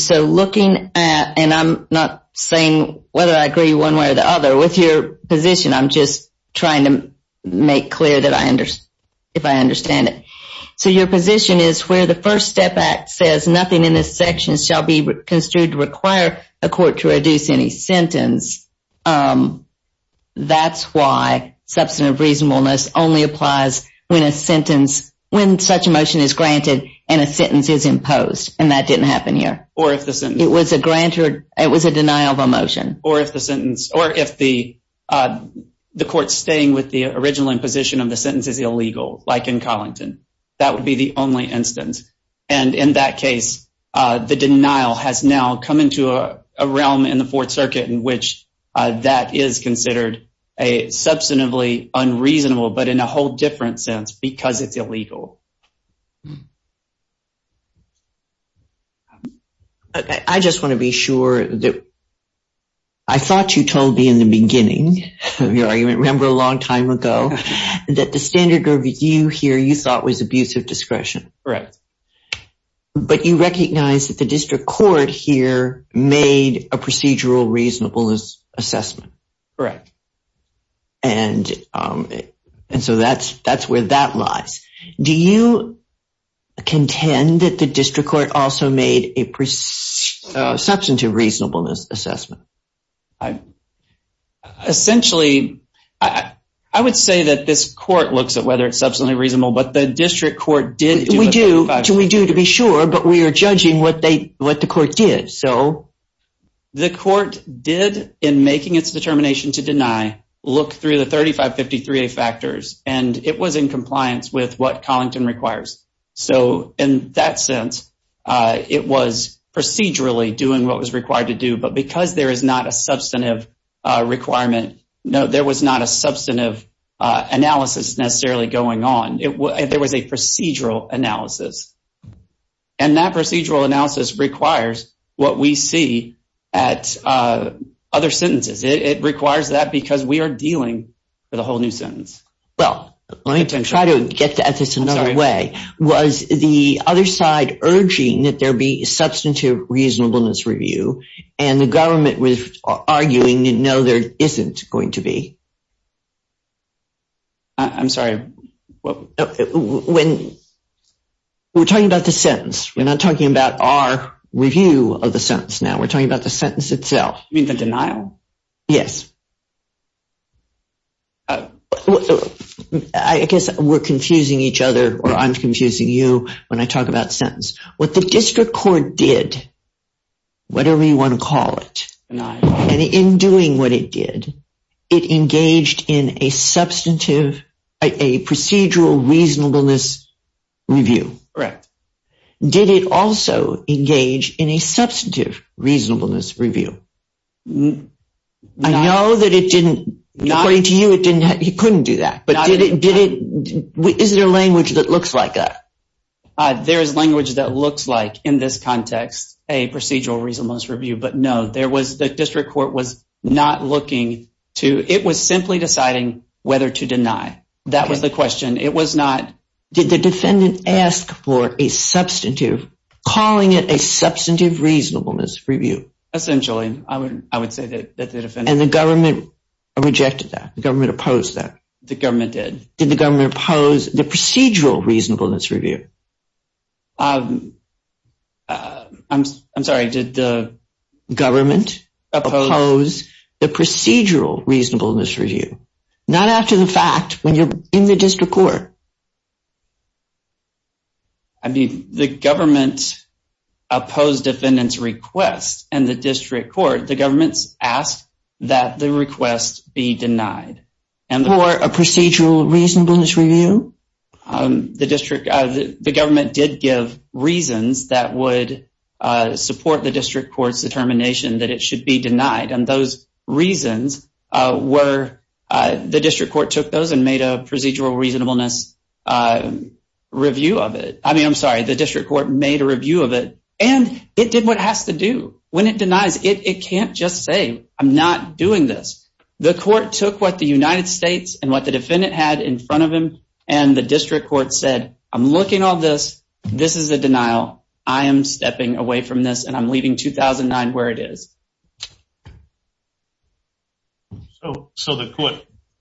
not saying whether I agree one way or the other. With your position, I'm just trying to make clear if I understand it. Your position is where the First Step Act says, nothing in this section shall be construed to require a court to reduce any sentence. That's why substantive reasonableness only applies when such a motion is granted and a sentence is imposed, and that didn't happen here. It was a denial of a motion. Or if the court's staying with the original imposition of the sentence is illegal, like in Collington. That would be the only instance. In that case, the denial has now come into a realm in the Fourth Circuit in which that is considered a substantively unreasonable, but in a whole different sense because it's illegal. I just want to be sure that I thought you told me in the beginning of your argument, remember a long time ago, that the standard of review here you thought was abusive discretion. Correct. But you recognize that the district court here made a procedural reasonableness assessment. Correct. And so that's where that lies. Do you contend that the district court also made a substantive reasonableness assessment? Essentially, I would say that this court looks at whether it's substantively reasonable, but the district court did. We do, to be sure, but we are judging what the court did. The court did, in making its determination to deny, look through the 3553A factors, and it was in compliance with what Collington requires. So, in that sense, it was procedurally doing what was required to do, but because there is not a substantive requirement, there was not a substantive analysis necessarily going on. There was a procedural analysis. And that procedural analysis requires what we see at other sentences. It requires that because we are dealing with a whole new sentence. Well, let me try to get at this another way. Was the other side urging that there be a substantive reasonableness review, and the government was arguing that no, there isn't going to be? I'm sorry. We're talking about the sentence. We're not talking about our review of the sentence now. We're talking about the sentence itself. You mean the denial? Yes. I guess we're confusing each other, or I'm confusing you when I talk about sentence. What the district court did, whatever you want to call it, and in doing what it did, it engaged in a procedural reasonableness review. Correct. Did it also engage in a substantive reasonableness review? I know that it didn't, according to you, it couldn't do that, but is there language that looks like that? There is language that looks like, in this context, a procedural reasonableness review, but no. The district court was not looking to – it was simply deciding whether to deny. That was the question. It was not – Did the defendant ask for a substantive, calling it a substantive reasonableness review? Essentially. I would say that the defendant – And the government rejected that. The government opposed that. The government did. Did the government oppose the procedural reasonableness review? I'm sorry. Did the government oppose the procedural reasonableness review? Not after the fact, when you're in the district court. The government opposed the defendant's request in the district court. The government asked that the request be denied. For a procedural reasonableness review? The district – the government did give reasons that would support the district court's determination that it should be denied, and those reasons were – the district court took those and made a procedural reasonableness review of it. I mean, I'm sorry, the district court made a review of it, and it did what it has to do. When it denies, it can't just say, I'm not doing this. The court took what the United States and what the defendant had in front of them, and the district court said, I'm looking on this. This is a denial. I am stepping away from this, and I'm leaving 2009 where it is. So the court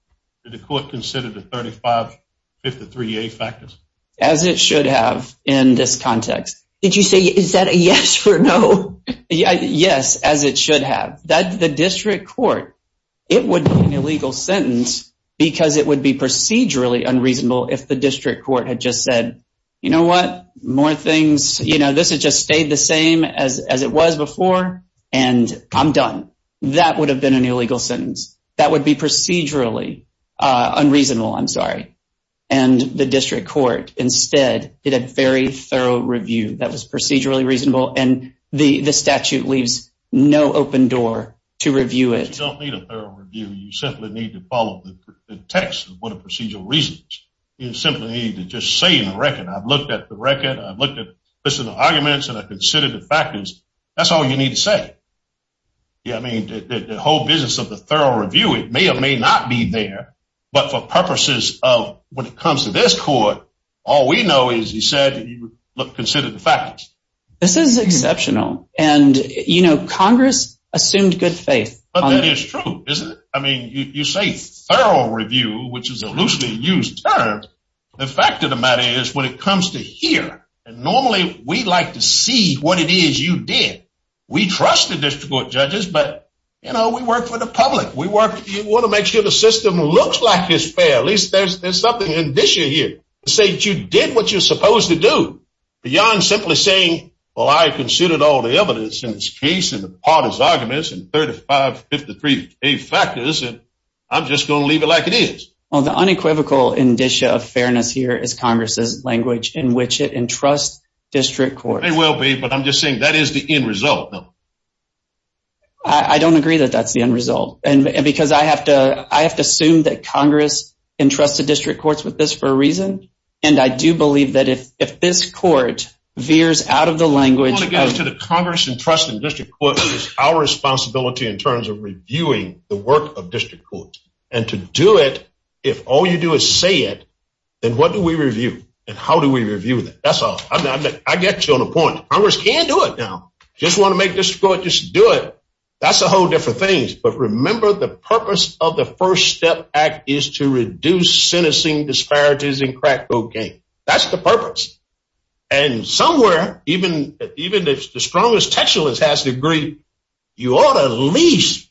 – did the court consider the 3553A factors? As it should have in this context. Did you say, is that a yes or no? Yes, as it should have. The district court – it would be an illegal sentence because it would be procedurally unreasonable if the district court had just said, you know what, more things – you know, this has just stayed the same as it was before, and I'm done. That would have been an illegal sentence. That would be procedurally unreasonable. I'm sorry. And the district court instead did a very thorough review that was procedurally reasonable, and the statute leaves no open door to review it. You don't need a thorough review. You simply need to follow the text of what are procedural reasons. You simply need to just say in the record, I've looked at the record, I've looked at the arguments, and I considered the factors. That's all you need to say. I mean, the whole business of the thorough review, it may or may not be there, but for purposes of when it comes to this court, all we know is you said you considered the factors. This is exceptional, and, you know, Congress assumes good faith. But it is true, isn't it? I mean, you say thorough review, which is a loosely used term. The fact of the matter is when it comes to here, normally we like to see what it is you did. We trust the district court judges, but, you know, we work for the public. We work – we want to make sure the system looks like it's fair. At least there's something in this year here to say that you did what you're supposed to do. Beyond simply saying, well, I considered all the evidence in this case, and the parties' arguments, and 3553 faith factors, I'm just going to leave it like it is. Well, the unequivocal indicia of fairness here is Congress's language in which it entrusts district courts. It will be, but I'm just saying that is the end result. I don't agree that that's the end result, because I have to assume that Congress entrusts the district courts with this for a reason, and I do believe that if this court veers out of the language – I want to get to the Congress entrusting district courts with our responsibility in terms of reviewing the work of district courts. And to do it, if all you do is say it, then what do we review, and how do we review it? That's all. I get you on the point. Congress can do it now. If you just want to make this court just do it, that's a whole different thing. But remember, the purpose of the First Step Act is to reduce sentencing disparities in crack cocaine. That's the purpose. And somewhere, even if the strongest textualist has to agree, you ought to at least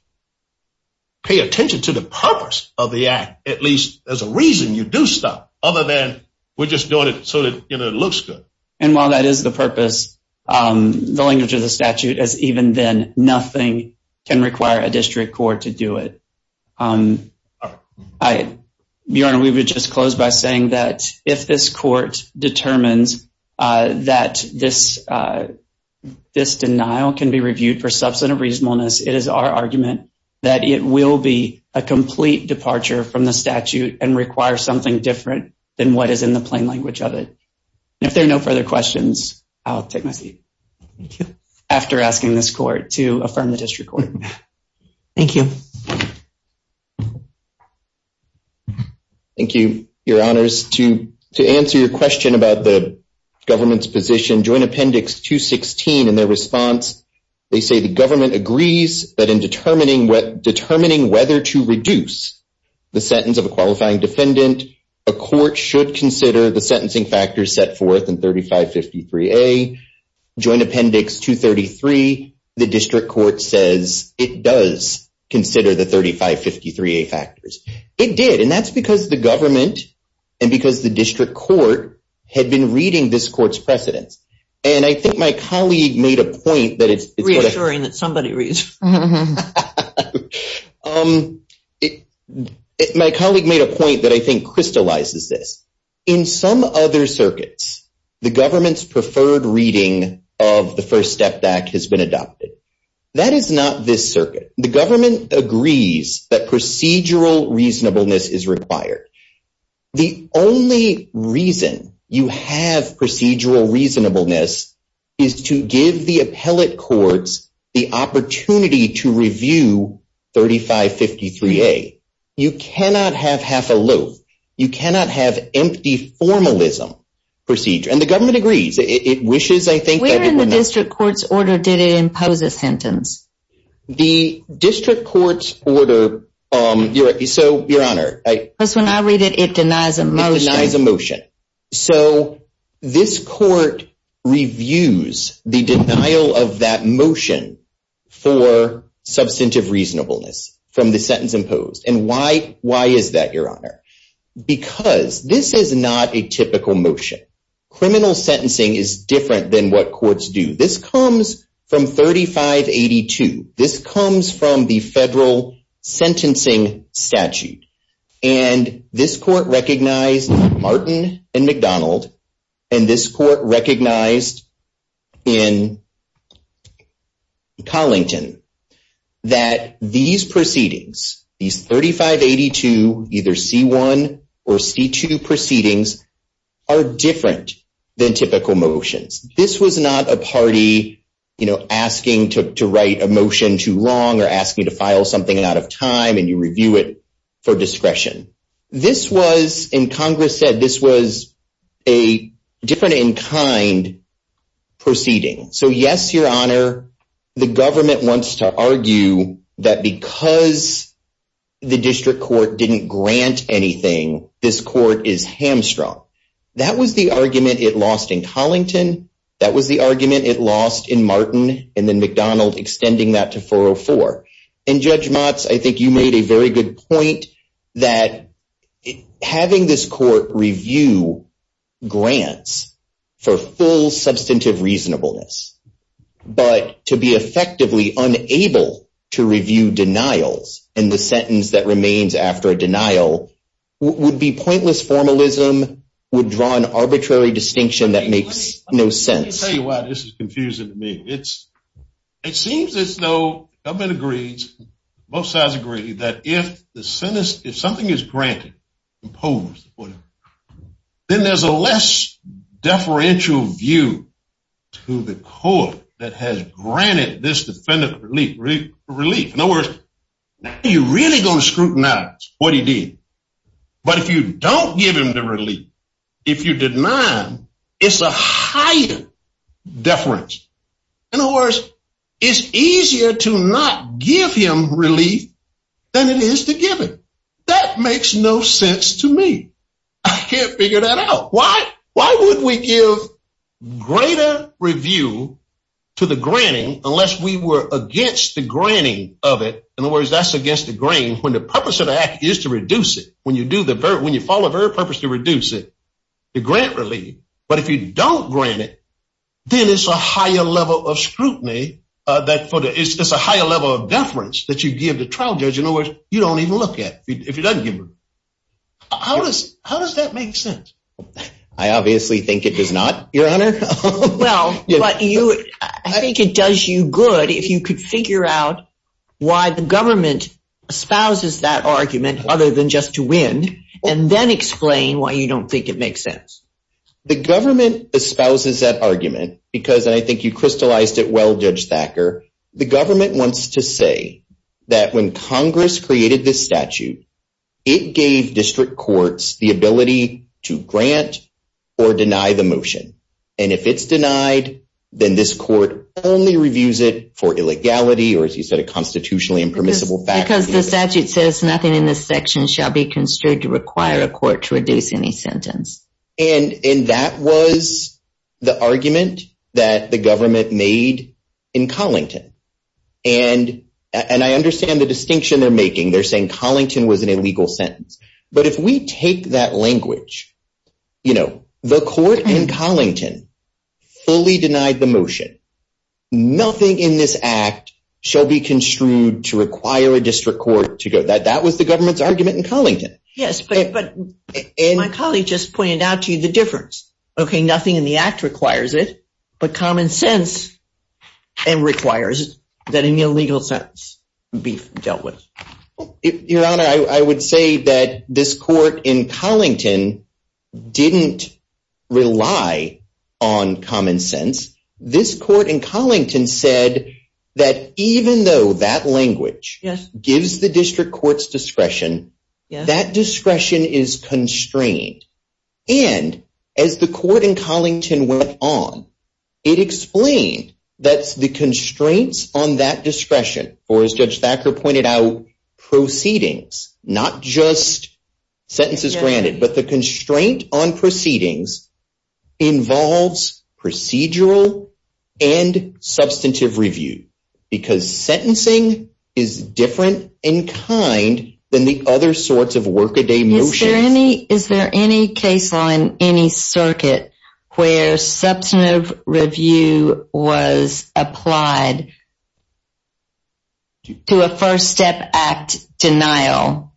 pay attention to the purpose of the act, at least as a reason you do stuff, other than we're just doing it so that it looks good. And while that is the purpose, the language of the statute is even then, nothing can require a district court to do it. Your Honor, we would just close by saying that if this court determines that this denial can be reviewed for substantive reasonableness, it is our argument that it will be a complete departure from the statute and require something different than what is in the plain language of it. If there are no further questions, I'll take my leave. Thank you. After asking this court to affirm the district court. Thank you. Thank you, Your Honors. To answer your question about the government's position, Joint Appendix 216 and their response, they say the government agrees that in determining whether to reduce the sentence of a qualifying defendant, a court should consider the sentencing factors set forth in 3553A. Joint Appendix 233, the district court says it does consider the 3553A factors. It did. And that's because the government and because the district court had been reading this court's precedents. And I think my colleague made a point that it's the court. Reassuring that somebody reads. My colleague made a point that I think crystallizes this. In some other circuits, the government's preferred reading of the first step back has been adopted. That is not this circuit. The government agrees that procedural reasonableness is required. The only reason you have procedural reasonableness is to give the appellate courts the opportunity to review 3553A. You cannot have half a loop. You cannot have empty formalism procedure. And the government agrees. It wishes, I think. Where in the district court's order did it impose the sentence? The district court's order. So, Your Honor. When I read it, it denies a motion. It denies a motion. So, this court reviews the denial of that motion for substantive reasonableness from the sentence imposed. And why is that, Your Honor? Because this is not a typical motion. Criminal sentencing is different than what courts do. This comes from 3582. This comes from the federal sentencing statute. And this court recognized, Martin and McDonald, and this court recognized in Collington, that these proceedings, these 3582, either C1 or C2 proceedings, are different than typical motions. This was not a party, you know, asking to write a motion too long or asking to file something out of time and you review it for discretion. This was, and Congress said, this was a different in kind proceeding. So, yes, Your Honor, the government wants to argue that because the district court didn't grant anything, this court is hamstrung. That was the argument it lost in Collington. That was the argument it lost in Martin and then McDonald extending that to 404. And Judge Motz, I think you made a very good point that having this court review grants for full substantive reasonableness, but to be effectively unable to review denials and the sentence that remains after a denial would be pointless formalism, would draw an arbitrary distinction that makes no sense. Let me tell you why this is confusing to me. It seems as though, government agrees, both sides agree, that if the sentence, if something is granted, imposed, then there's a less deferential view to the court that has granted this defendant relief. Now, are you really going to scrutinize what he did? But if you don't give him the relief, if you deny him, it's a heightened deference. In other words, it's easier to not give him relief than it is to give him. That makes no sense to me. I can't figure that out. Why would we give greater review to the granting unless we were against the granting of it? In other words, that's against the granting when the purpose of the act is to reduce it, when you follow the very purpose to reduce it, to grant relief. But if you don't grant it, then it's a higher level of scrutiny, it's a higher level of deference that you give the trial judge. In other words, you don't even look at it if he doesn't give it. How does that make sense? I obviously think it did not, Your Honor. Well, I think it does you good if you could figure out why the government espouses that argument, other than just to win, and then explain why you don't think it makes sense. The government espouses that argument because I think you crystallized it well, Judge Thacker. The government wants to say that when Congress created this statute, it gave district courts the ability to grant or deny the motion. And if it's denied, then this court only reviews it for illegality or, as you said, a constitutionally impermissible fact. Because the statute says nothing in this section shall be constricted to require a court to reduce any sentence. And that was the argument that the government made in Collington. And I understand the distinction they're making. They're saying Collington was an illegal sentence. But if we take that language, you know, the court in Collington fully denied the motion. Nothing in this act shall be construed to require a district court to do it. That was the government's argument in Collington. Yes, but my colleague just pointed out to you the difference. Okay, nothing in the act requires it, but common sense requires that an illegal sentence be dealt with. Your Honor, I would say that this court in Collington didn't rely on common sense. This court in Collington said that even though that language gives the district court's discretion, that discretion is constrained. And as the court in Collington went on, it explained that the constraints on that discretion, or as Judge Thacker pointed out, proceedings, not just sentences granted, but the constraint on proceedings involves procedural and substantive review. Because sentencing is different in kind than the other sorts of work-a-day motions. Is there any case on any circuit where substantive review was applied to a First Step Act denial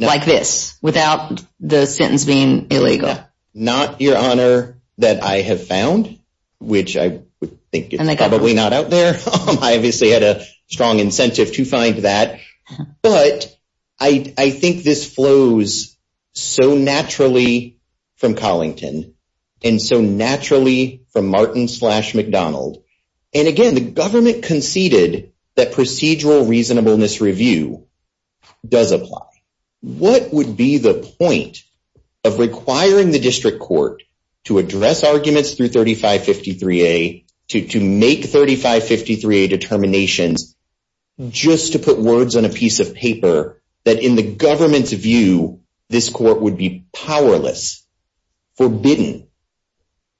like this, without the sentencing illegal? Not, Your Honor, that I have found, which I think is probably not out there. I obviously had a strong incentive to find that. But I think this flows so naturally from Collington and so naturally from Martin's-McDonald. And again, the government conceded that procedural reasonableness review does apply. What would be the point of requiring the district court to address arguments through 3553A, to make 3553A determinations, just to put words on a piece of paper that in the government's view this court would be powerless, forbidden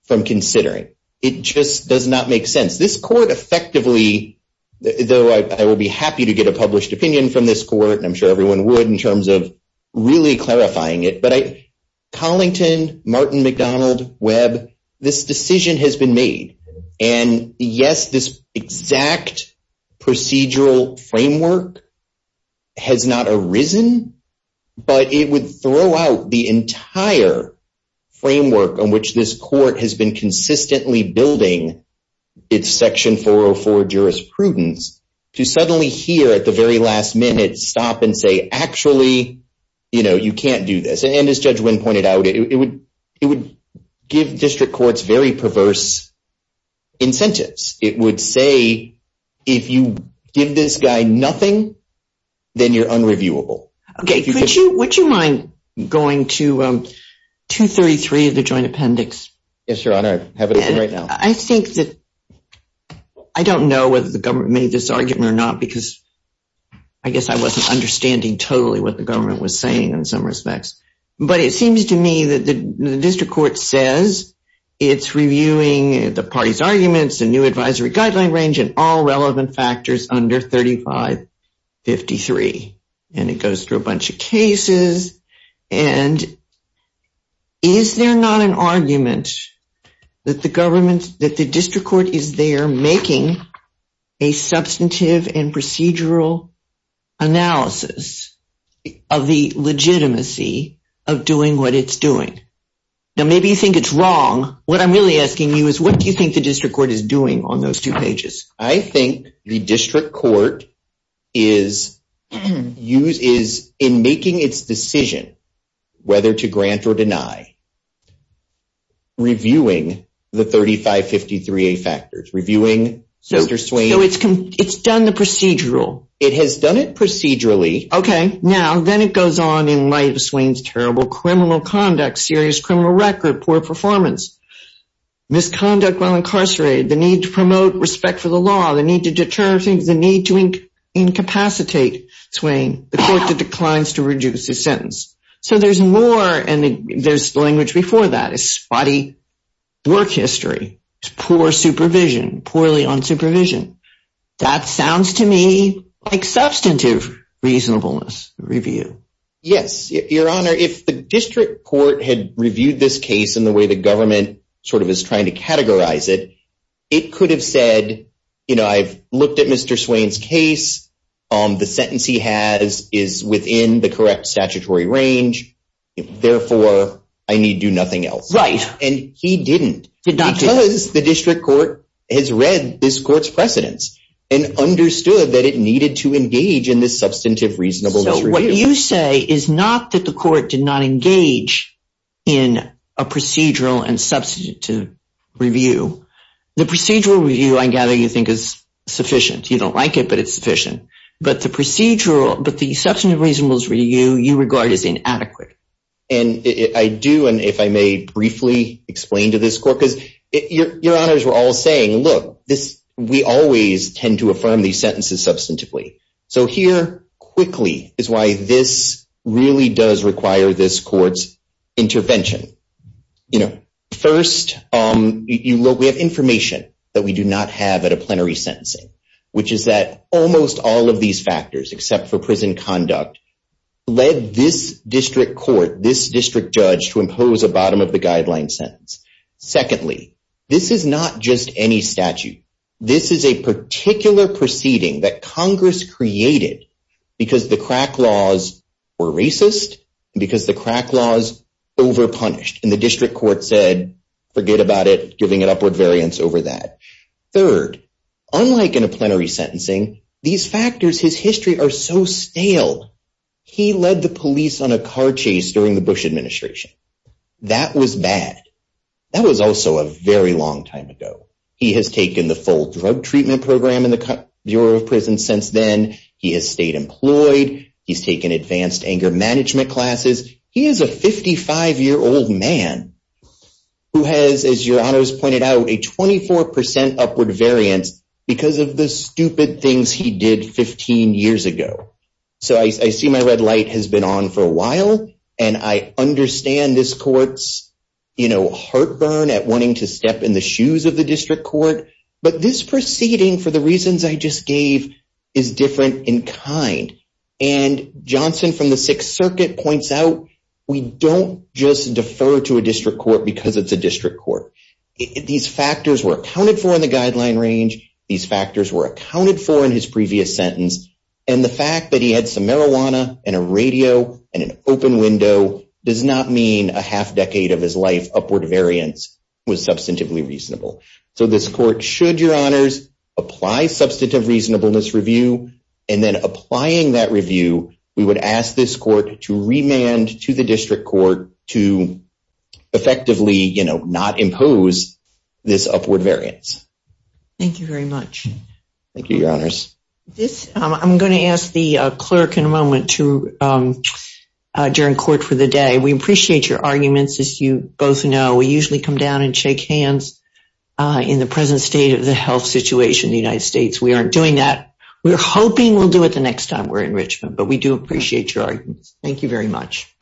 from considering? It just does not make sense. This court effectively, though I would be happy to get a published opinion from this court, and I'm sure everyone would in terms of really clarifying it, but Collington, Martin, McDonald, Webb, this decision has been made. And yes, this exact procedural framework has not arisen, but it would throw out the entire framework on which this court has been consistently building its Section 404 jurisprudence, to suddenly hear at the very last minute stop and say, actually, you can't do this. And as Judge Wynn pointed out, it would give district courts very perverse incentives. It would say, if you give this guy nothing, then you're unreviewable. Okay, would you mind going to 233 of the joint appendix? Yes, Your Honor, I have it open right now. I don't know whether the government made this argument or not, because I guess I wasn't understanding totally what the government was saying in some respects. But it seems to me that the district court says it's reviewing the parties' arguments, the new advisory guideline range, and all relevant factors under 3553. And it goes through a bunch of cases. And is there not an argument that the district court is there making a substantive and procedural analysis of the legitimacy of doing what it's doing? Now, maybe you think it's wrong. What I'm really asking you is, what do you think the district court is doing on those two pages? I think the district court is, in making its decision whether to grant or deny, reviewing the 3553A factors. So it's done the procedural? It has done it procedurally. Okay, now, then it goes on in light of Swain's terrible criminal conduct, serious criminal record, poor performance, misconduct while incarcerated, the need to promote respect for the law, the need to deter, the need to incapacitate Swain before he declines to reduce his sentence. So there's more, and there's language before that, spotty work history, poor supervision, poorly on supervision. That sounds to me like substantive reasonableness review. Yes, Your Honor. If the district court had reviewed this case in the way the government sort of is trying to categorize it, it could have said, I've looked at Mr. Swain's case. The sentence he has is within the correct statutory range. Therefore, I need do nothing else. Right. And he didn't because the district court has read this court's precedents and understood that it needed to engage in this substantive reasonableness review. So what you say is not that the court did not engage in a procedural and substantive review. The procedural review, I gather, you think is sufficient. You don't like it, but it's sufficient. But the procedural, but the substantive reasonableness review you regard as inadequate. And I do, and if I may briefly explain to this court, because Your Honors, we're all saying, look, we always tend to affirm these sentences substantively. So here quickly is why this really does require this court's intervention. First, we have information that we do not have at a plenary sentencing, which is that almost all of these factors, except for prison conduct, led this district court, this district judge, to impose a bottom-of-the-guideline sentence. Secondly, this is not just any statute. This is a particular proceeding that Congress created because the crack laws were racist and because the crack laws overpunished. And the district court said, forget about it. It's giving an upward variance over that. Third, unlike in a plenary sentencing, these factors, his history, are so stale. He led the police on a car chase during the Bush administration. That was bad. That was also a very long time ago. He has taken the full drug treatment program in the Bureau of Prisons since then. He has stayed employed. He's taken advanced anger management classes. He is a 55-year-old man who has, as Your Honors pointed out, a 24% upward variance because of the stupid things he did 15 years ago. So I see my red light has been on for a while. And I understand this court's, you know, heartburn at wanting to step in the shoes of the district court. But this proceeding, for the reasons I just gave, is different in kind. And Johnson from the Sixth Circuit points out we don't just defer to a district court because it's a district court. These factors were accounted for in the guideline range. These factors were accounted for in his previous sentence. And the fact that he had some marijuana and a radio and an open window does not mean a half decade of his life upward variance was substantively reasonable. So this court should, Your Honors, apply substantive reasonableness review. And then applying that review, we would ask this court to remand to the district court to effectively, you know, not impose this upward variance. Thank you very much. Thank you, Your Honors. I'm going to ask the clerk in a moment to adjourn court for the day. We appreciate your arguments, as you both know. We usually come down and shake hands in the present state of the health situation in the United States. We aren't doing that. We're hoping we'll do it the next time we're in Richmond. But we do appreciate your arguments. Thank you very much.